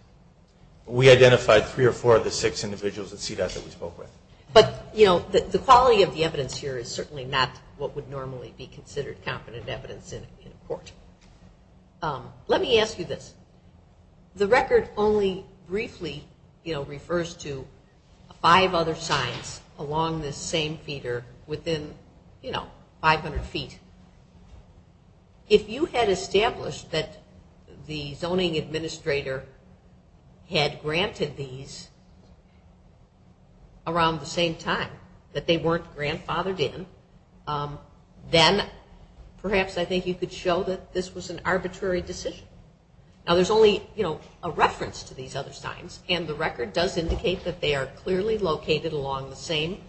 We identified three or four of the six individuals at CDOT that we spoke with. But, you know, the quality of the evidence here is certainly not what would normally be considered competent evidence in court. Let me ask you this. The record only briefly, you know, refers to five other signs along this same feeder within, you know, 500 feet. If you had established that the zoning administrator had granted these around the same time, that they weren't grandfathered in, then perhaps I think you could show that this was an arbitrary decision. Now, there's only, you know, a reference to these other signs. And the record does indicate that they are clearly located along the same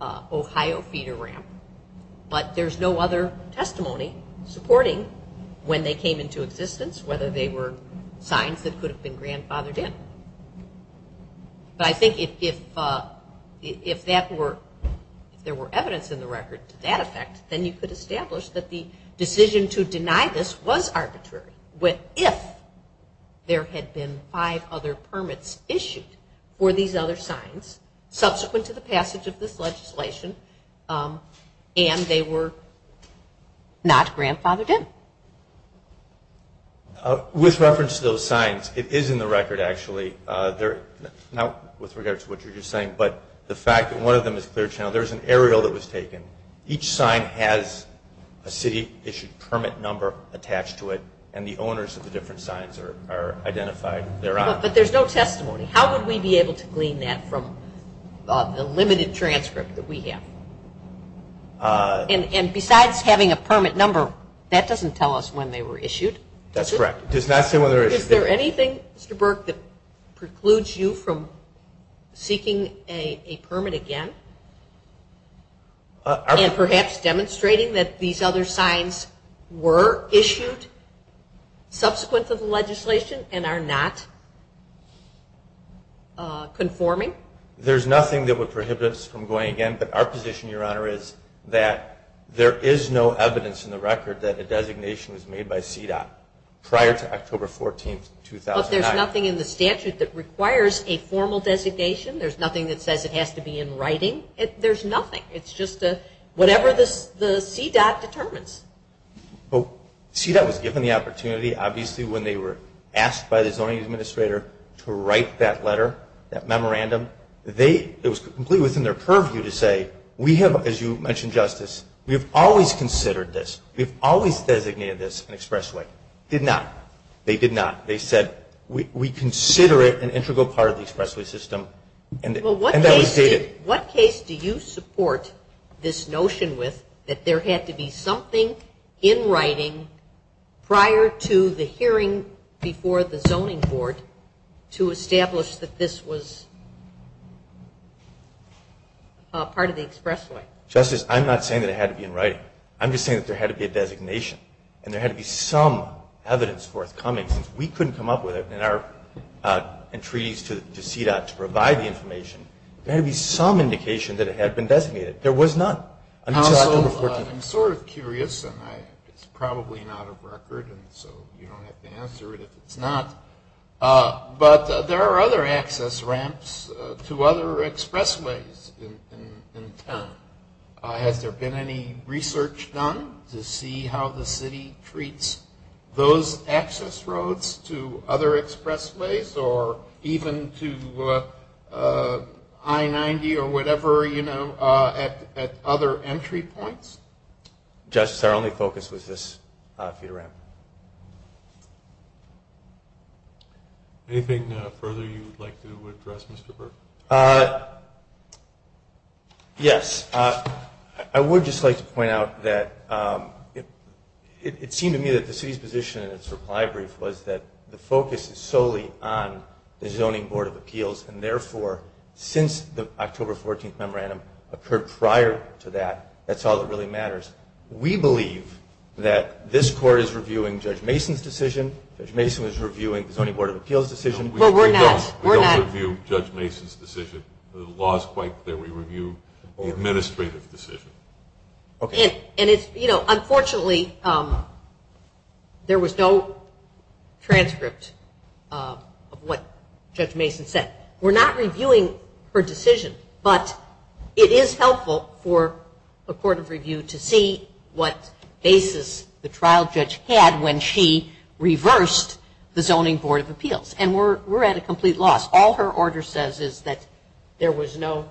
Ohio feeder ramp. But there's no other testimony supporting when they came into existence, whether they were signs that could have been grandfathered in. But I think if that were, if there were evidence in the record to that effect, then you could establish that the decision to deny this was arbitrary. But if there had been five other permits issued for these other signs, subsequent to the passage of this legislation, and they were not grandfathered in. With reference to those signs, it is in the record, actually. They're not with regards to what you're just saying. But the fact that one of them is clear to know, there's an aerial that was taken. Each sign has a city issued permit number attached to it. And the owners of the different signs are identified thereof. But there's no testimony. How would we be able to glean that from the limited transcript that we have? And besides having a permit number, that doesn't tell us when they were issued. That's correct. It does not say when they were issued. Is there anything, Mr. Burke, that precludes you from seeking a permit again and perhaps demonstrating that these other signs were issued subsequent to the legislation and are not conforming? There's nothing that would prohibit us from going again. But our position, Your Honor, is that there is no evidence in the record that a designation was made by CDOT prior to October 14, 2009. But there's nothing in the statute that requires a formal designation? There's nothing that says it has to be in writing? There's nothing. It's just whatever the CDOT determines. Well, CDOT was given the opportunity, obviously, when they were asked by the zoning administrator to write that letter, that memorandum. It was completely within their purview to say, we have, as you mentioned, Justice, we've always considered this, we've always designated this an expressway. Did not. They did not. They said, we consider it an integral part of the expressway system. Well, what case do you support this notion with that there had to be something in writing prior to the hearing before the zoning board to establish that this was part of the expressway? Justice, I'm not saying that it had to be in writing. I'm just saying that there had to be a designation. And there had to be some evidence forthcoming. We couldn't come up with it in our entreaties to CDOT to provide the information. There had to be some indication that it had been designated. There was none until October 14. I'm sort of curious, and it's probably not a record, and so you don't have to answer it if it's not. But there are other access ramps to other expressways in town. Has there been any research done to see how the city treats those access roads to other expressways or even to I-90 or whatever at other entry points? Justice, our only focus was this feed ramp. Anything further you would like to address, Mr. Burke? Yes. I would just like to point out that it seemed to me that the city's position in its reply brief was that the focus is solely on the zoning board of appeals, and therefore since the October 14 memorandum occurred prior to that, that's all that really matters. We believe that this court is reviewing Judge Mason's decision. Judge Mason was reviewing the zoning board of appeals decision. But we're not. We don't review Judge Mason's decision. The law is quite that we review the administrative decision. And it's, you know, unfortunately there was no transcript of what Judge Mason said. We're not reviewing her decision. But it is helpful for a court of review to see what basis the trial judge had when she reversed the zoning board of appeals. And we're at a complete loss. All her order says is that there was no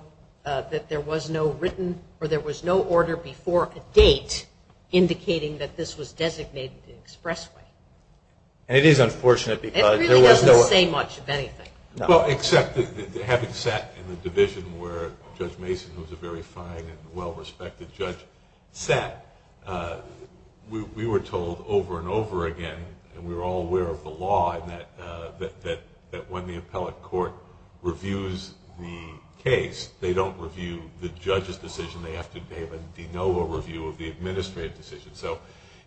written or there was no order before a date indicating that this was designated an expressway. And it is unfortunate because there was no... It really doesn't say much of anything. Well, except that having sat in the division where Judge Mason was a very fine and well-respected judge set, we were told over and over again, and we were all aware of the law, that when the appellate court reviews the case, they don't review the judge's decision. They have to give a de novo review of the administrative decision. So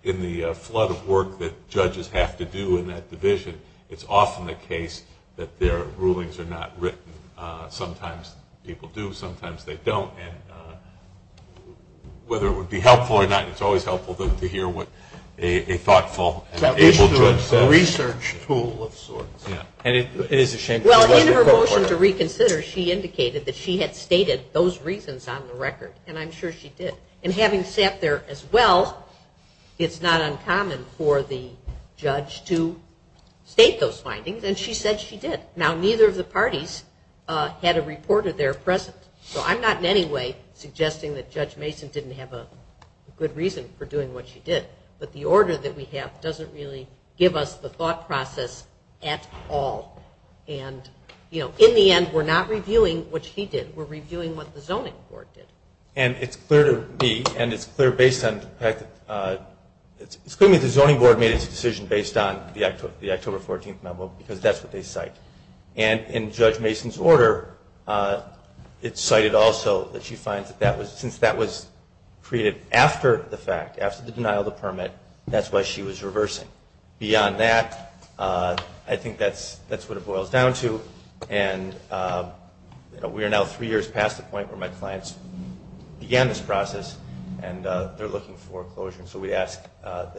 in the flood of work that judges have to do in that division, it's often the case that their rulings are not written. Sometimes people do, sometimes they don't. And whether it would be helpful or not, it's always helpful to hear what a thoughtful... Is there a research tool of sorts? Well, in her motion to reconsider, she indicated that she had stated those reasons on the record, and I'm sure she did. And having sat there as well, it's not uncommon for the judge to state those findings, and she said she did. Now, neither of the parties had a report of their presence. So I'm not in any way suggesting that Judge Mason didn't have a good reason for doing what she did. But the order that we have doesn't really give us the thought process at all. And, you know, in the end, we're not reviewing what she did. We're reviewing what the zoning court did. And it's clear to me, and it's clear based on... It's clear that the zoning board made its decision based on the October 14th memo, because that's what they cite. And in Judge Mason's order, it's cited also that she finds that since that was created after the fact, after the denial of the permit, that's why she was reversing. Beyond that, I think that's what it boils down to. And we are now three years past the point where my clients began this process, and they're looking for a closure. And so we ask that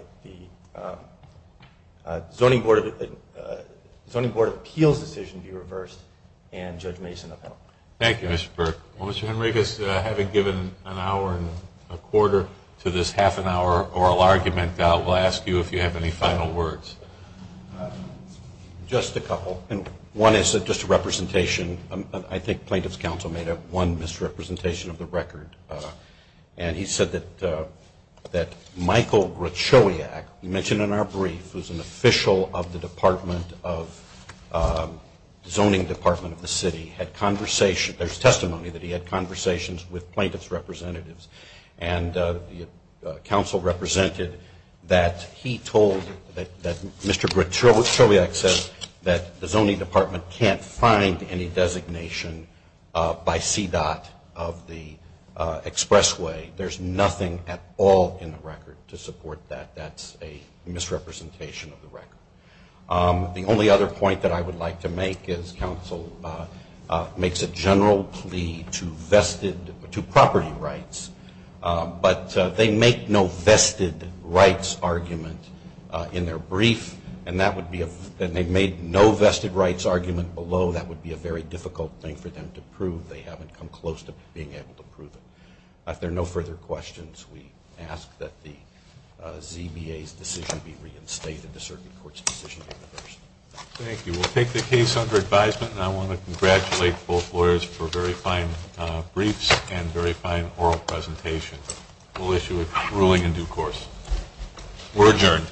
the zoning board appeals decision be reversed and Judge Mason upheld. Thank you, Mr. Burke. Well, Mr. Henriquez, having given an hour and a quarter to this half-an-hour oral argument, I will ask you if you have any final words. Just a couple. Well, one is just a representation. I think Plaintiff's Counsel made one misrepresentation of the record. And he said that Michael Grachowiak, mentioned in our brief, who's an official of the zoning department of the city, there's testimony that he had conversations with plaintiff's representatives. And counsel represented that he told that Mr. Grachowiak said that the zoning department can't find any designation by CDOT of the expressway. There's nothing at all in the record to support that. That's a misrepresentation of the record. The only other point that I would like to make is counsel makes a general plea to property rights but they make no vested rights argument in their brief, and that would be a very difficult thing for them to prove. They haven't come close to being able to prove it. If there are no further questions, we ask that the ZBA's decision be read in state and the circuit court's decision be reversed. Thank you. We'll take the case under advisement, and I want to congratulate both lawyers for very fine briefs and very fine oral presentation. We'll issue a ruling in due course. We're adjourned. Thank you.